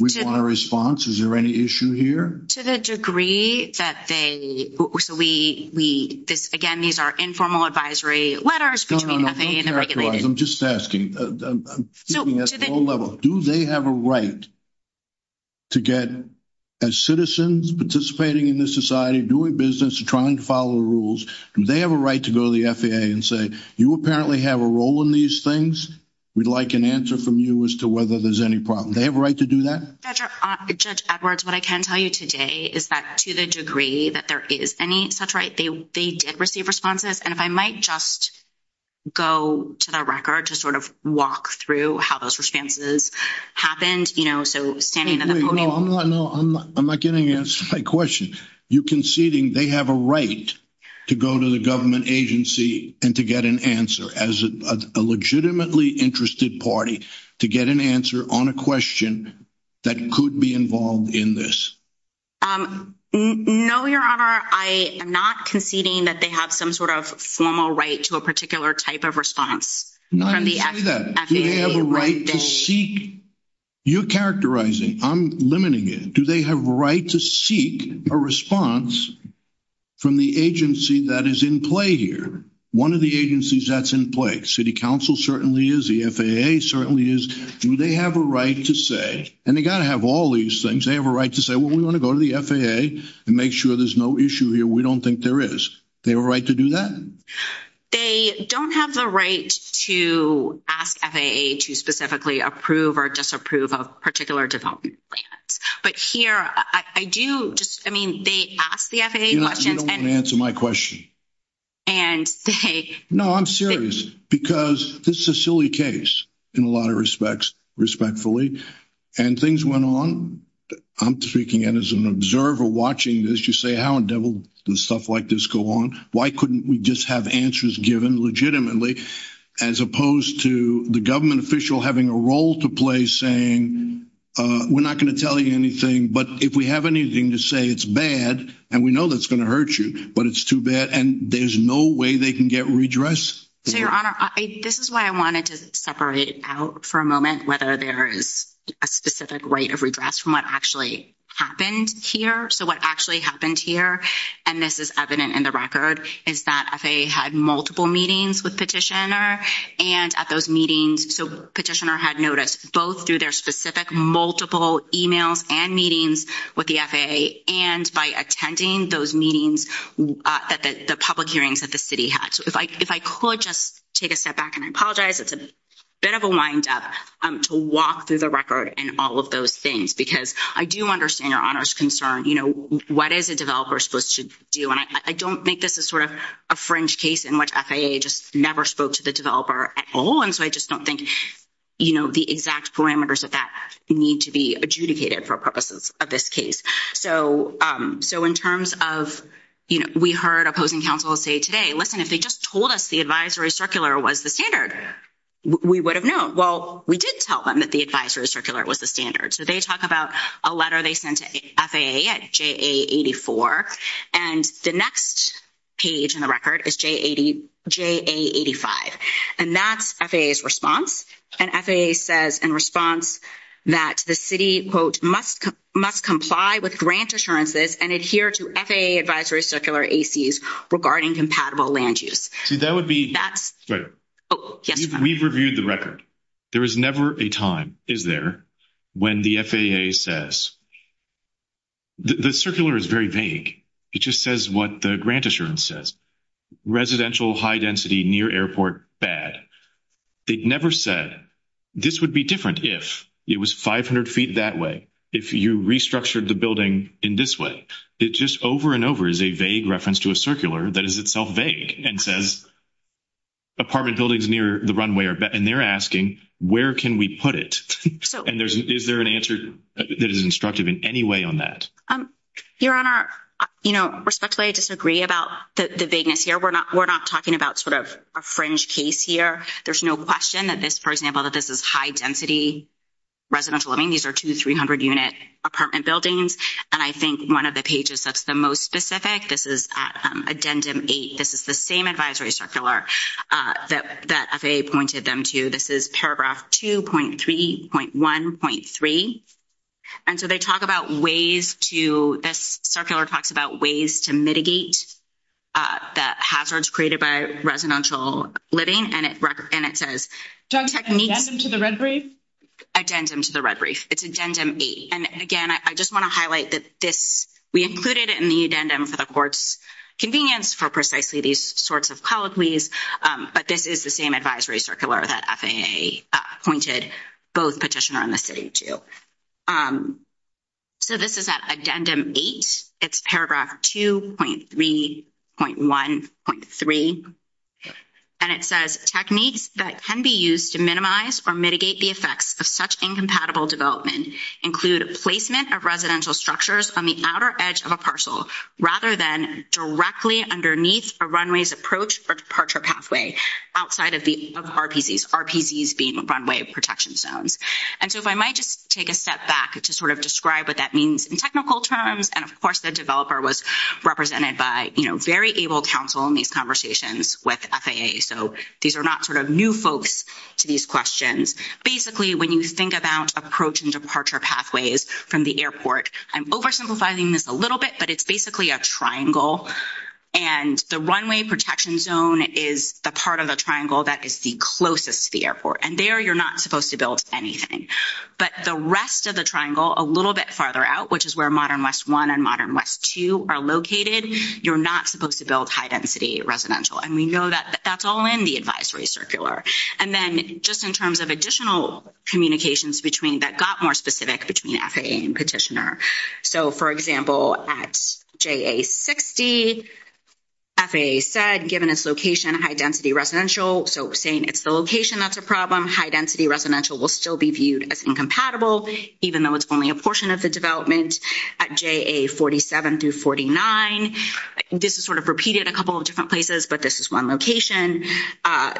We want a response. Is there any issue here? To the degree that they, so we, again, these are informal advisory letters between FAA and the regulators. I'm just asking, do they have a right to get as citizens participating in this society, doing business, trying to follow the rules, do they have a right to go to the FAA and say, you apparently have a role in these things. We'd like an answer from you as to whether there's any problem. They have a right to do that? Judge Edwards, what I can tell you today is that to the degree that there is any such right, they did receive responses. And if I might just go to the record to sort of walk through how those responses happened, you know, so standing at the podium. No, I'm not getting an answer to my question. You conceding they have a right to go to the government agency and to get an answer as a legitimately interested party to get an answer on a question that could be involved in this? No, Your Honor, I am not conceding that they have some sort of formal right to a particular type of response. I didn't say that. Do they have a right to seek? You're characterizing. I'm limiting it. Do they have a right to seek a response from the agency that is in play here? One of the agencies that's in play, city council certainly is, the FAA certainly is. Do they have a right to say, and they got to have all these things, they have a right to say, well, we want to go to the FAA and make sure there's no issue here. We don't think there is. They have a right to do that? They don't have the right to ask FAA to specifically approve or disapprove of particular development plans. But here, I do just, I mean, they asked the FAA questions. You don't want to answer my question. No, I'm serious because this is a silly case in a lot of respects, respectfully. And things went on. I'm speaking as an observer watching this. You say, how in the devil does stuff like this go on? Why couldn't we just have answers given legitimately as opposed to the government official having a role to play saying, we're not going to tell you anything, but if we have anything to say, it's bad, and we know that's going to hurt you, but it's too bad. And there's no way they can get redress. So, Your Honor, this is why I wanted to separate out for a moment whether there is a specific right of redress from what actually happened here. So, what actually happened here, and this is evident in the record, is that FAA had multiple meetings with Petitioner, and at those meetings, so Petitioner had noticed both through their specific multiple emails and meetings with the FAA, and by attending those meetings, the public hearings that the city had. If I could just take a step back, and I apologize, it's a bit of a wind-up to walk through the record and all of those things, because I do understand Your Honor's concern. What is a developer supposed to do? And I don't make this as sort of a fringe case in which FAA just never spoke to the developer at all, and so I just don't think the exact parameters of that need to be adjudicated for purposes of this case. So, in terms of we heard opposing counsel say today, listen, if they just told us the advisory circular was the standard, we would have known. Well, we did tell them that the advisory circular was the standard. So, they talk about a letter they sent to FAA at JA84, and the next page in the record is JA85, and that's FAA's response, and FAA says in response that the city, quote, must comply with grant assurances and adhere to FAA advisory circular ACs regarding compatible land use. See, that would be... That's... Right. Oh, yes. We've reviewed the record. There is never a time, is there, when the FAA says... The circular is very vague. It just says what the grant assurance says, residential high-density near airport, bad. They never said, this would be different if it was 500 feet that way, if you restructured the building in this way. It just over and over is a vague reference to a circular that is itself vague and says apartment buildings near the runway are bad, and they're asking, where can we put it? And is there an answer that is instructive in any way on that? Your Honor, you know, respectfully, I disagree about the vagueness here. We're not talking about sort of a fringe case here. There's no question that this, for example, that this is high-density residential. I mean, these are two, 300-unit apartment buildings, and I think one of the pages that's the most specific, this is addendum eight. This is the same advisory circular that FAA pointed them to. This is paragraph 2.3.1.3, and so they talk about ways to... This circular talks about ways to mitigate the hazards created by residential living, and it says drug techniques... Addendum to the red brief? Addendum to the red brief. It's addendum eight, and again, I just want to highlight that this, we included it in the addendum for the court's convenience for precisely these sorts of colloquies, but this is the same advisory circular that FAA pointed both petitioner and the city to. So this is at addendum eight. It's paragraph 2.3.1.3, and it says techniques that can be used to minimize or mitigate the effects of such incompatible development include placement of residential structures on the outer edge of a parcel rather than directly underneath a runway's approach or departure pathway outside of RPCs, RPCs being runway protection zones. And so if I might just take a step back to sort of describe what that means in technical terms, and of course, the developer was represented by very able counsel in these conversations with FAA, so these are not new folks to these questions. Basically, when you think about approach and departure pathways from the airport, I'm oversimplifying this a little bit, but it's basically a triangle, and the runway protection zone is the part of the triangle that is the closest to the airport, and there you're not supposed to build anything. But the rest of the triangle a little bit farther out, which is where modern west one and modern west two are located, you're not supposed to build high-density residential, and we know that that's all in the advisory circular. And then just in terms of additional communications that got more specific between FAA and petitioner, so for example, at JA-60, FAA said given its location, high-density residential, so saying it's the location that's a problem, high-density residential will still be viewed as incompatible even though it's only a portion of the development at JA-47 through 49. This is sort of repeated a couple of different places, but this is one location. FAA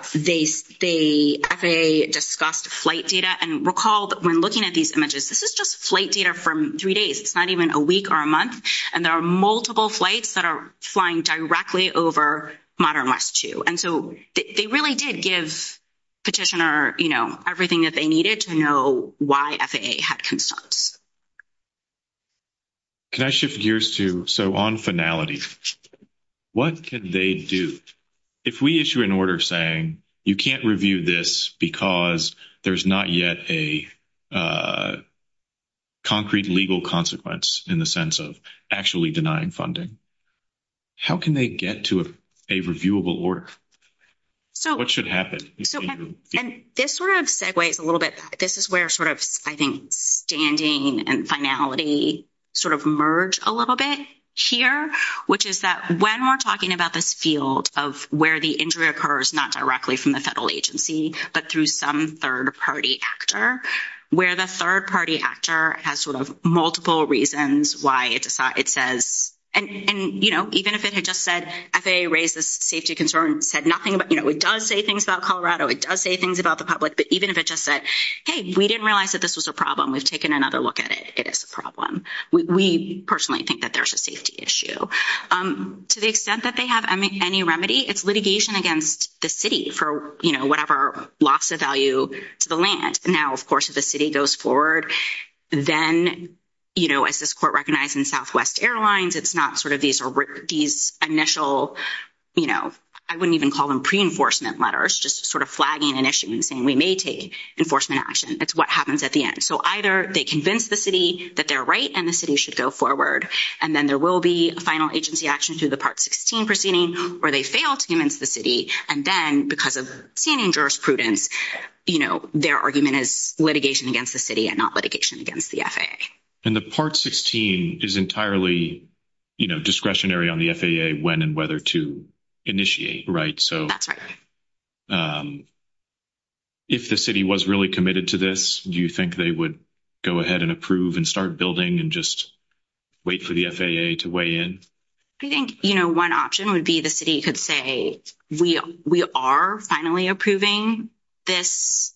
discussed flight data, and recall that when looking at these images, this is just flight data from three days. It's not even a week or a month, and there are multiple flights that are flying directly over modern west two, and so they really did give petitioner, you know, everything that they needed to know why FAA had concerns. Can I shift gears to, so on finality, what could they do? If we issue an order saying you can't review this because there's not yet a concrete legal consequence in the sense of actually denying funding, how can they get to a reviewable order? What should happen? And this sort of segues a little bit. This is where sort of, I think, standing and finality sort of merge a little bit here, which is that when we're talking about this field of where the injury occurs, not directly from the federal agency, but through some third-party actor, where the third-party actor has sort of multiple reasons why it says, and, you know, even if it had just said, FAA raised this safety concern, said nothing about, you know, it does say things about Colorado, it does say things about the public, but even if it just said, hey, we didn't realize that this was a problem, we've taken another look at it, it is a problem. We personally think that there's a safety issue. To the extent that they have any remedy, it's litigation against the city for, you know, whatever loss of value to the land. Now, of course, if the city goes forward, then, you know, as this court recognized in Southwest Airlines, it's not sort of these initial, you know, I wouldn't even call them pre-enforcement letters, just sort of flagging an issue and saying we may take enforcement action. It's what happens at the end. So either they convince the city that they're right and the city should go forward, and then there will be a because of senior jurisprudence, you know, their argument is litigation against the city and not litigation against the FAA. And the part 16 is entirely, you know, discretionary on the FAA when and whether to initiate, right? So that's right. If the city was really committed to this, do you think they would go ahead and approve and start building and just wait for the FAA to weigh in? I think, you know, one option would be the city could say we are finally approving this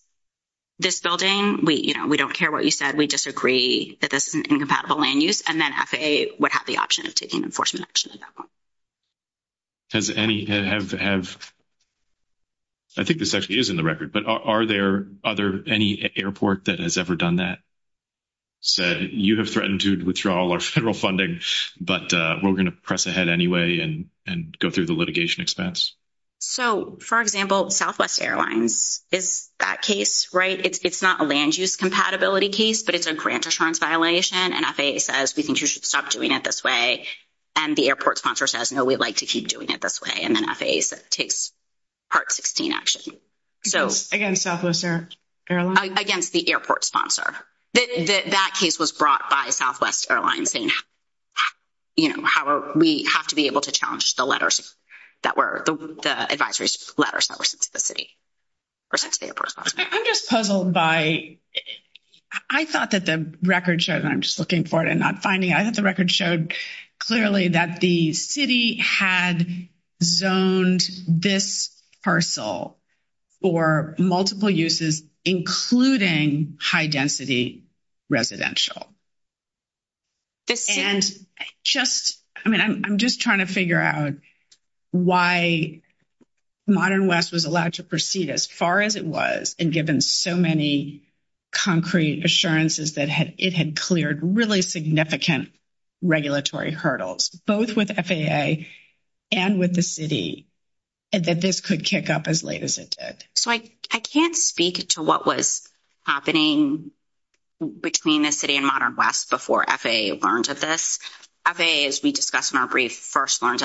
building. We, you know, we don't care what you said. We disagree that this is an incompatible land use. And then FAA would have the option of taking enforcement action on that one. Has any have, I think this actually is in the record, but are there other, any airport that has ever done that? So you have threatened to withdraw all our federal funding, but we're going to press ahead anyway and go through the litigation expense. So, for example, Southwest Airlines is that case, right? It's not a land use compatibility case, but it's a grant assurance violation. And FAA says we think you should stop doing it this way. And the airport sponsor says, no, we'd like to keep doing it this way. And then FAA takes part 16 action. Against Southwest Airlines? Against the airport sponsor. That case was brought by Southwest Airlines saying, you know, we have to be able to challenge the letters that were the advisory letters that were sent to the city or sent to the airport sponsor. I'm just puzzled by, I thought that the record showed, and I'm just looking for it and not finding it. I thought the record showed clearly that the city had zoned this parcel for multiple uses, including high density residential. And just, I mean, I'm just trying to figure out why Modern West was allowed to proceed as far as it was and given so many concrete assurances that it had cleared really significant regulatory hurdles, both with FAA and with the city, that this could kick up as late as it did. So, I can't speak to what was happening between the city and Modern West before FAA learned of this. FAA, as we discussed in our brief, first learned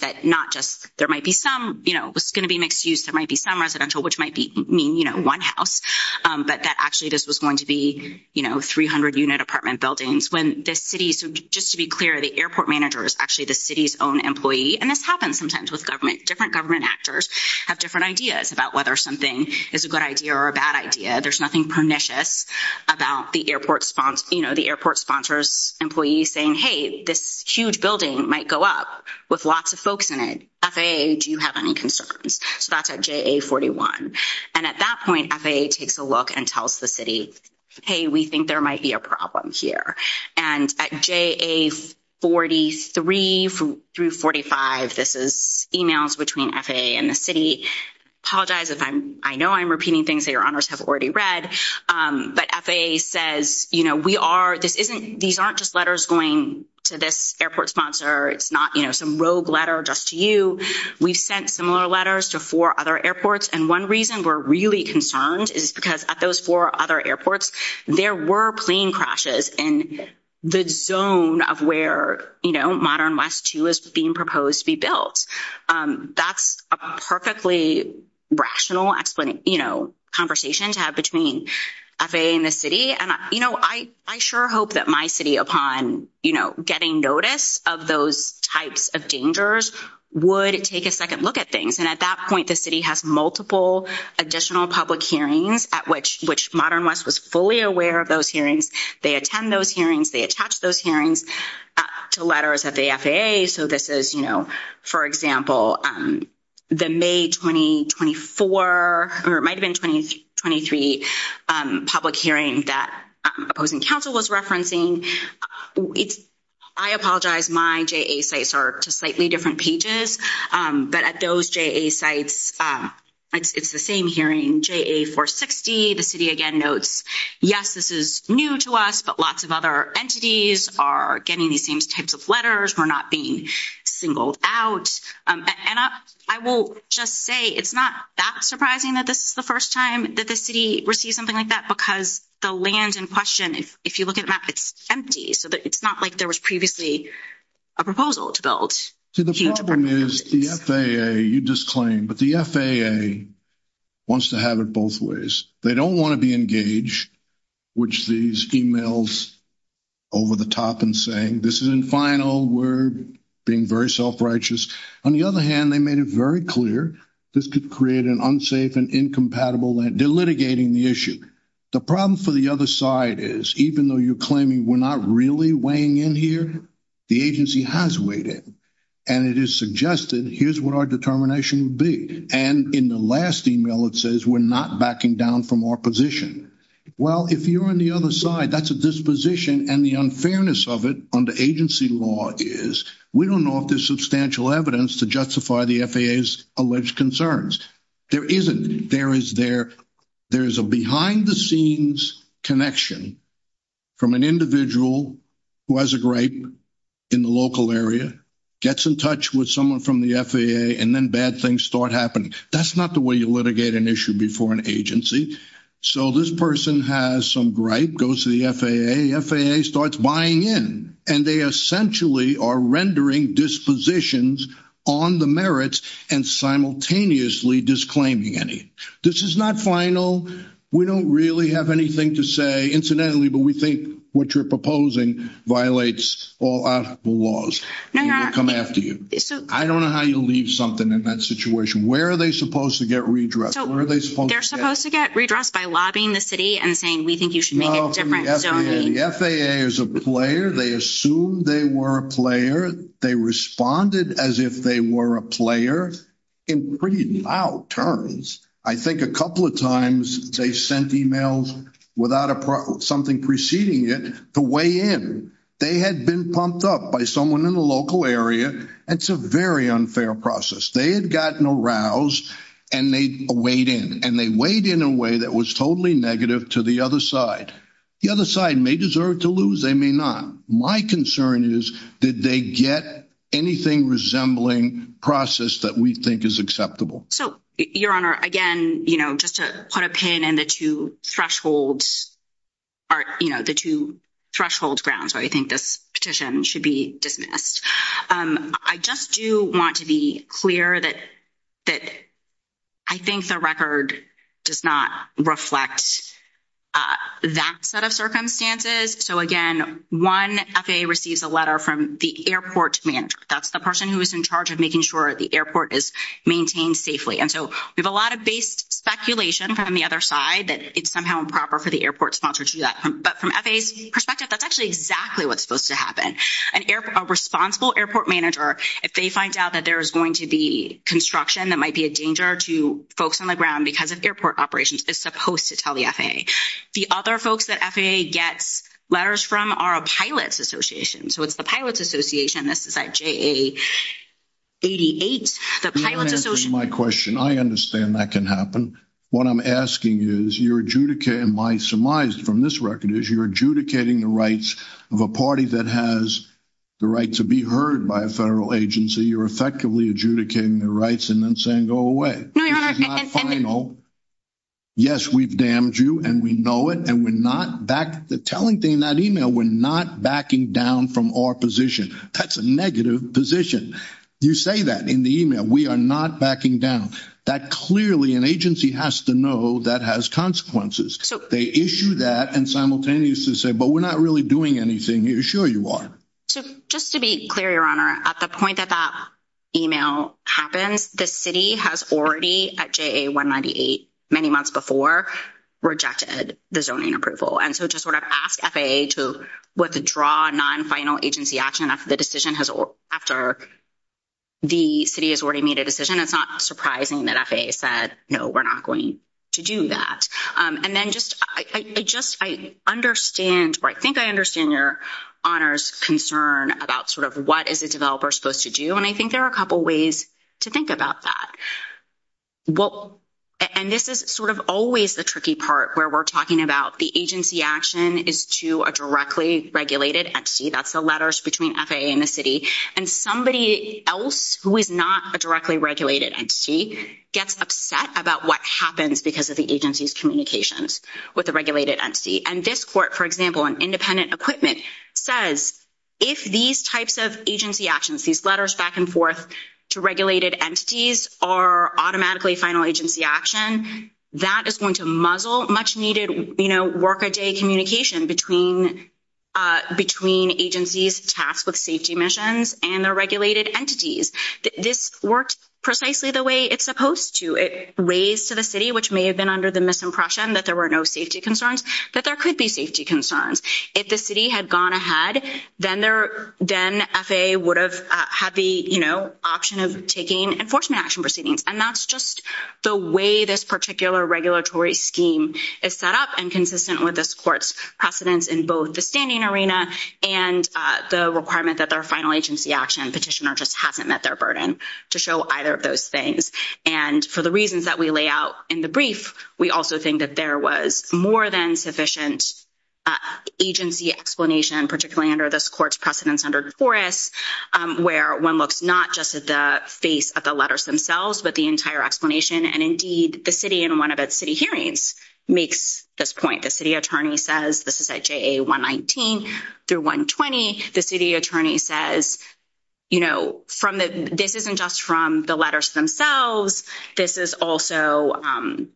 that not just there might be some, you know, it was going to be mixed use. There might be some residential, which might mean, you know, one house, but that actually this was going to be, you know, 300 unit apartment buildings when the city, so just to be clear, the airport manager is actually the city's own employee. And this happens sometimes with government, different government actors have different ideas about whether something is a good idea or a bad idea. There's nothing pernicious about the airport sponsor, you know, the airport sponsor's employee saying, hey, this huge building might go up with lots of folks in it. FAA, do you have any concerns? So, that's at JA41. And at that point, FAA takes a look and tells the city, hey, we think there might be a problem here. And at JA43 through 45, this is emails between FAA and the city. I apologize if I'm, I know I'm repeating things that your honors have already read, but FAA says, you know, we are, this isn't, these aren't just letters going to this airport sponsor. It's not, you know, some rogue letter just to you. We've sent similar letters to four other airports. And one reason we're really concerned is because at those four other airports, there were plane crashes in the zone of where, you know, Modern West 2 is being proposed to be built. That's a perfectly rational conversation to have between FAA and the city. And, you know, I sure hope that my city, upon, you know, getting notice of those types of dangers, would take a second look at things. And at that point, the city has multiple additional public hearings at which, which Modern West was fully aware of those hearings. They attend those hearings, they attach those hearings to letters at the FAA. So this is, you know, for example, the May 2024, or it might have been 2023 public hearing that opposing council was referencing. I apologize, my JA sites are slightly different pages. But at those JA sites, it's the same hearing, JA 460, the city again notes, yes, this is new to us, but lots of other entities are getting these same types of letters, we're not being singled out. And I will just say, it's not that surprising that this is the first time that the city received something like that, because the land in question, if you look it's empty. So it's not like there was previously a proposal to build. See, the problem is the FAA, you disclaim, but the FAA wants to have it both ways. They don't want to be engaged, which these emails over the top and saying this isn't final, we're being very self-righteous. On the other hand, they made it very clear, this could create an unsafe and incompatible land, they're litigating the issue. The problem for the other side is, even though you're claiming we're not really weighing in here, the agency has weighed in. And it is suggested, here's what our determination would be. And in the last email, it says we're not backing down from our position. Well, if you're on the other side, that's a disposition and the unfairness of it under agency law is, we don't know if there's substantial evidence to justify the FAA's alleged concerns. There isn't, there is a behind the scenes connection from an individual who has a gripe in the local area, gets in touch with someone from the FAA, and then bad things start happening. That's not the way you litigate an issue before an agency. So this person has some gripe, goes to the FAA, FAA starts buying in, and they essentially are rendering dispositions on the merits and simultaneously disclaiming any. This is not final. We don't really have anything to say incidentally, but we think what you're proposing violates all our laws. We will come after you. I don't know how you'll leave something in that situation. Where are they supposed to get redressed? Where are they supposed to get? They're supposed to get redressed by lobbying the city and saying, we think you should make it different. The FAA is a player. They assumed they were a player. They responded as if they were a player in pretty loud terms. I think a couple of times they sent emails without something preceding it to weigh in. They had been pumped up by someone in the local area. It's a very unfair process. They had gotten aroused and they weighed in, and they weighed in a way that was totally negative to the other side. The other side may deserve to lose. They may not. My concern is, did they get anything resembling process that we think is acceptable? Your Honor, again, just to put a pin in the two thresholds grounds, I think this petition should be dismissed. I just do want to be clear that I think the record does not reflect that set of circumstances. Again, one FAA receives a letter from the airport manager. That's the person who is in charge of making sure the airport is maintained safely. And so we have a lot of based speculation from the other side that it's somehow improper for the airport sponsor to do that. But from FAA's perspective, that's actually exactly what's supposed to happen. A responsible airport manager, if they find out that there is going to be construction, that might be a danger to folks on the ground because of airport operations, is supposed to tell the FAA. The other folks that FAA gets letters from are a pilot's association. So it's the pilot's association. This is at JA88. The pilot's association- My question, I understand that can happen. What I'm asking is, you're adjudicating, my surmise from this record is, you're adjudicating the rights of a party that has the right to be heard by a federal agency. You're effectively adjudicating their rights and then saying, go away. This is not final. Yes, we've damned you and we know it. And we're not back, the telling thing in that email, we're not backing down from our position. That's a negative position. You say that in the email. We are not backing down. That clearly, an agency has to know that has consequences. They issue that and simultaneously say, but we're not really doing anything. Sure you are. Just to be clear, your honor, at the point that that email happens, the city has already, at JA198, many months before, rejected the zoning approval. And so just sort of ask FAA to withdraw non-final agency action after the city has already made a decision. It's not surprising that FAA said, no, we're not going to do that. And then just, I understand, or I think I understand your honor's concern about sort of what is a developer supposed to do. And I think there are a couple of ways to think about that. Well, and this is sort of always the tricky part where we're talking about the agency action is to a directly regulated entity. That's the letters between FAA and the city. And somebody else who is not a directly regulated entity gets upset about what happens because of the agency's communications with the regulated entity. And this court, for example, on independent equipment says, if these types of agency actions, these letters back and forth to regulated entities are automatically final agency action, that is going to muzzle much needed, you know, work a day communication between agencies tasked with safety missions and their regulated entities. This worked precisely the way it's supposed to. It raised to the city, which may have been under the misimpression that there were no safety concerns, that there could be safety concerns. If the city had gone ahead, then FAA would have had the, you know, option of taking enforcement action proceedings. And that's just the way this particular regulatory scheme is set up and consistent with this court's precedence in both the standing arena and the requirement that their final agency action petitioner just hasn't met their burden to show either of those things. And for the reasons that we lay out in the brief, we also think that there was more than sufficient agency explanation, particularly under this court's precedence under DeForest, where one looks not just at the face of the letters themselves, but the entire explanation. And indeed, the city in one of its city hearings makes this point. The city attorney says this is at JA 119 through 120. The city attorney says, you know, this isn't just from the letters themselves. This is also,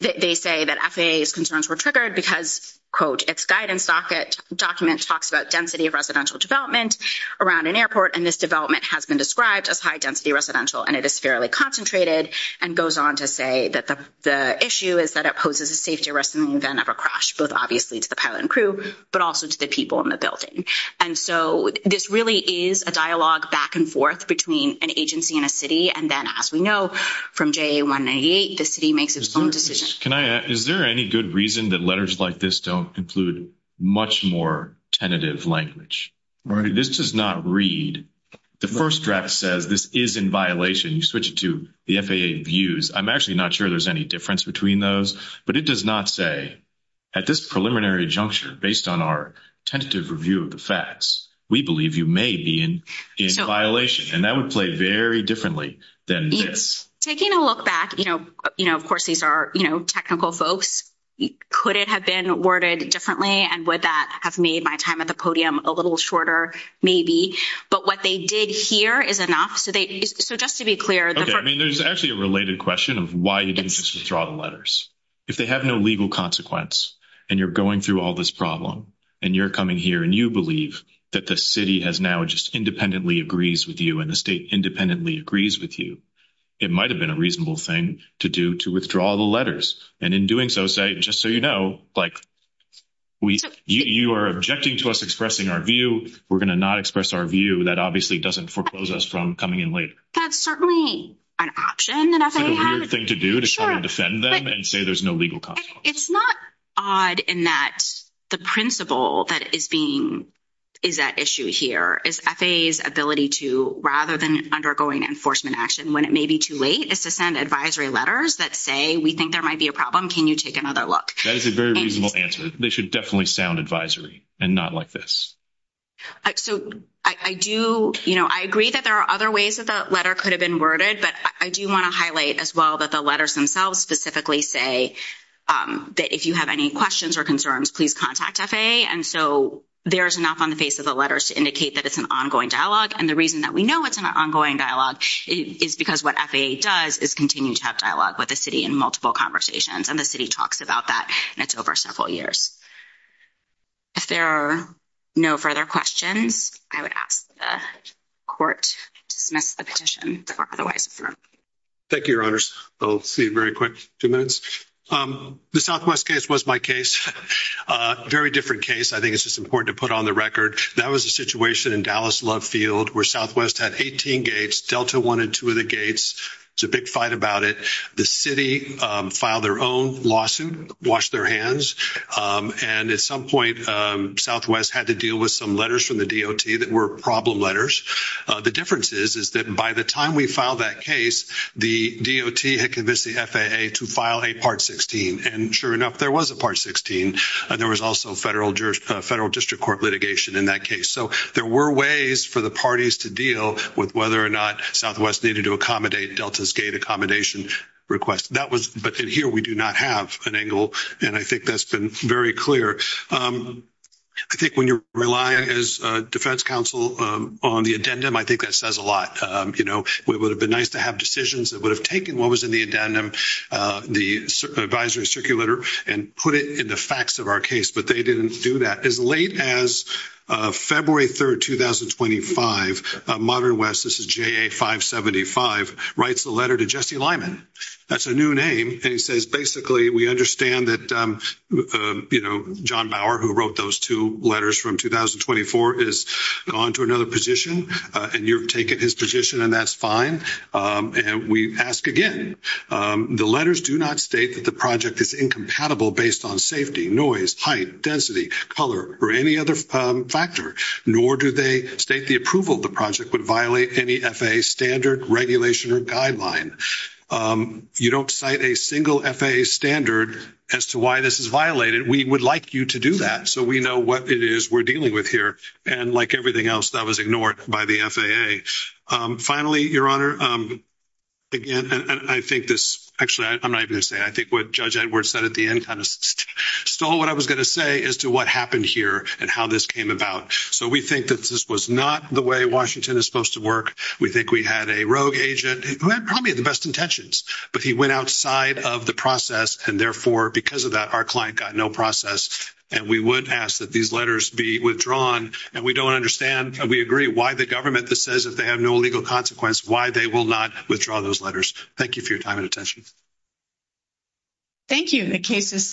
they say that FAA's concerns were triggered because, quote, its guidance document talks about density of residential development around an airport. And this development has been described as high-density residential. And it is fairly concentrated and goes on to say that the issue is that it poses a safety risk in the event of a crash, both obviously to the pilot and crew, but also to the people in the building. And so this really is a dialogue back and forth between an agency and a city. And then as we know from JA 198, the city makes its own decision. Can I ask, is there any good reason that letters like this don't include much more tentative language? This does not read, the first draft says this is in violation. You switch it to the FAA views. I'm actually not sure there's any difference between those, but it does not say at this preliminary juncture, based on our tentative review of the facts, we believe you may be in violation. And that would play very differently than this. Taking a look back, you know, of course, these are, you know, technical folks. Could it have been worded differently? And would that have made my time at the podium a little shorter? Maybe. But what they did here is enough. So just to be clear. Okay. I mean, there's actually a related question of why you didn't just withdraw the letters. If they have no legal consequence, and you're going through all this problem, and you're coming here and you believe that the city has now just independently agrees with you and the state independently agrees with you, it might have been a reasonable thing to do to withdraw the letters. And in doing so, say, just so you know, like, you are objecting to us expressing our view. We're going to not express our view. That obviously doesn't foreclose us from coming in later. That's certainly an option that FAA has. It's a weird thing to do to try and defend them and say there's no legal consequence. It's not odd in that the principle that is being, is at issue here is FAA's ability to, rather than undergoing enforcement action when it may be too late, is to send advisory letters that say, we think there might be a problem. Can you take another look? That is a very reasonable answer. They should definitely sound advisory and not like this. So I do, you know, I agree that there are other ways that the letter could have been but I do want to highlight as well that the letters themselves specifically say that if you have any questions or concerns, please contact FAA. And so there's enough on the face of the letters to indicate that it's an ongoing dialogue. And the reason that we know it's an ongoing dialogue is because what FAA does is continue to have dialogue with the city in multiple conversations. And the city talks about that and it's over several years. If there are no further questions, I would ask the court to dismiss the petition. Thank you, your honors. I'll see you very quick. Two minutes. The Southwest case was my case. Very different case. I think it's just important to put on the record. That was a situation in Dallas Love Field where Southwest had 18 gates, Delta wanted two of the gates. It's a big fight about it. The city filed their own lawsuit, washed their hands. And at some point, Southwest had to deal with some letters from the DOT that were problem letters. The difference is that by the time we filed that case, the DOT had convinced the FAA to file a part 16. And sure enough, there was a part 16. And there was also federal district court litigation in that case. So there were ways for the parties to deal with whether or not Southwest needed to accommodate Delta's gate accommodation request. But here, we do not have an angle. And I think that's been very clear. I think when you're relying as defense counsel on the addendum, I think that says a lot. It would have been nice to have decisions that would have taken what was in the addendum, the advisory circulator, and put it in the facts of our case. But they didn't do that. As late as February 3, 2025, Modern West, this is JA575, writes a letter to Jesse Lyman. That's a new name. And he says, basically, we understand that, you know, John Bauer, who wrote those two letters from 2024, has gone to another position. And you're taking his position, and that's fine. And we ask again, the letters do not state that the project is incompatible based on safety, noise, height, density, color, or any other factor. Nor do they state the approval of the project would violate any FAA standard regulation or guideline. You don't cite a single FAA standard as to why this is violated. We would like you to do that so we know what it is we're dealing with here. And like everything else, that was ignored by the FAA. Finally, Your Honor, again, I think actually, I'm not even going to say it. I think what Judge Edwards said at the end kind of stole what I was going to say as to what happened here and how this came about. So we think that this was not the way Washington is supposed to work. We think we had a rogue agent who probably had the best intentions, but he went outside of the process. And therefore, because of that, our client got no process. And we would ask that these letters be withdrawn. And we don't understand, and we agree, why the government that says if they have no legal consequence, why they will not withdraw those letters. Thank you for your time and attention. Thank you. The case is submitted.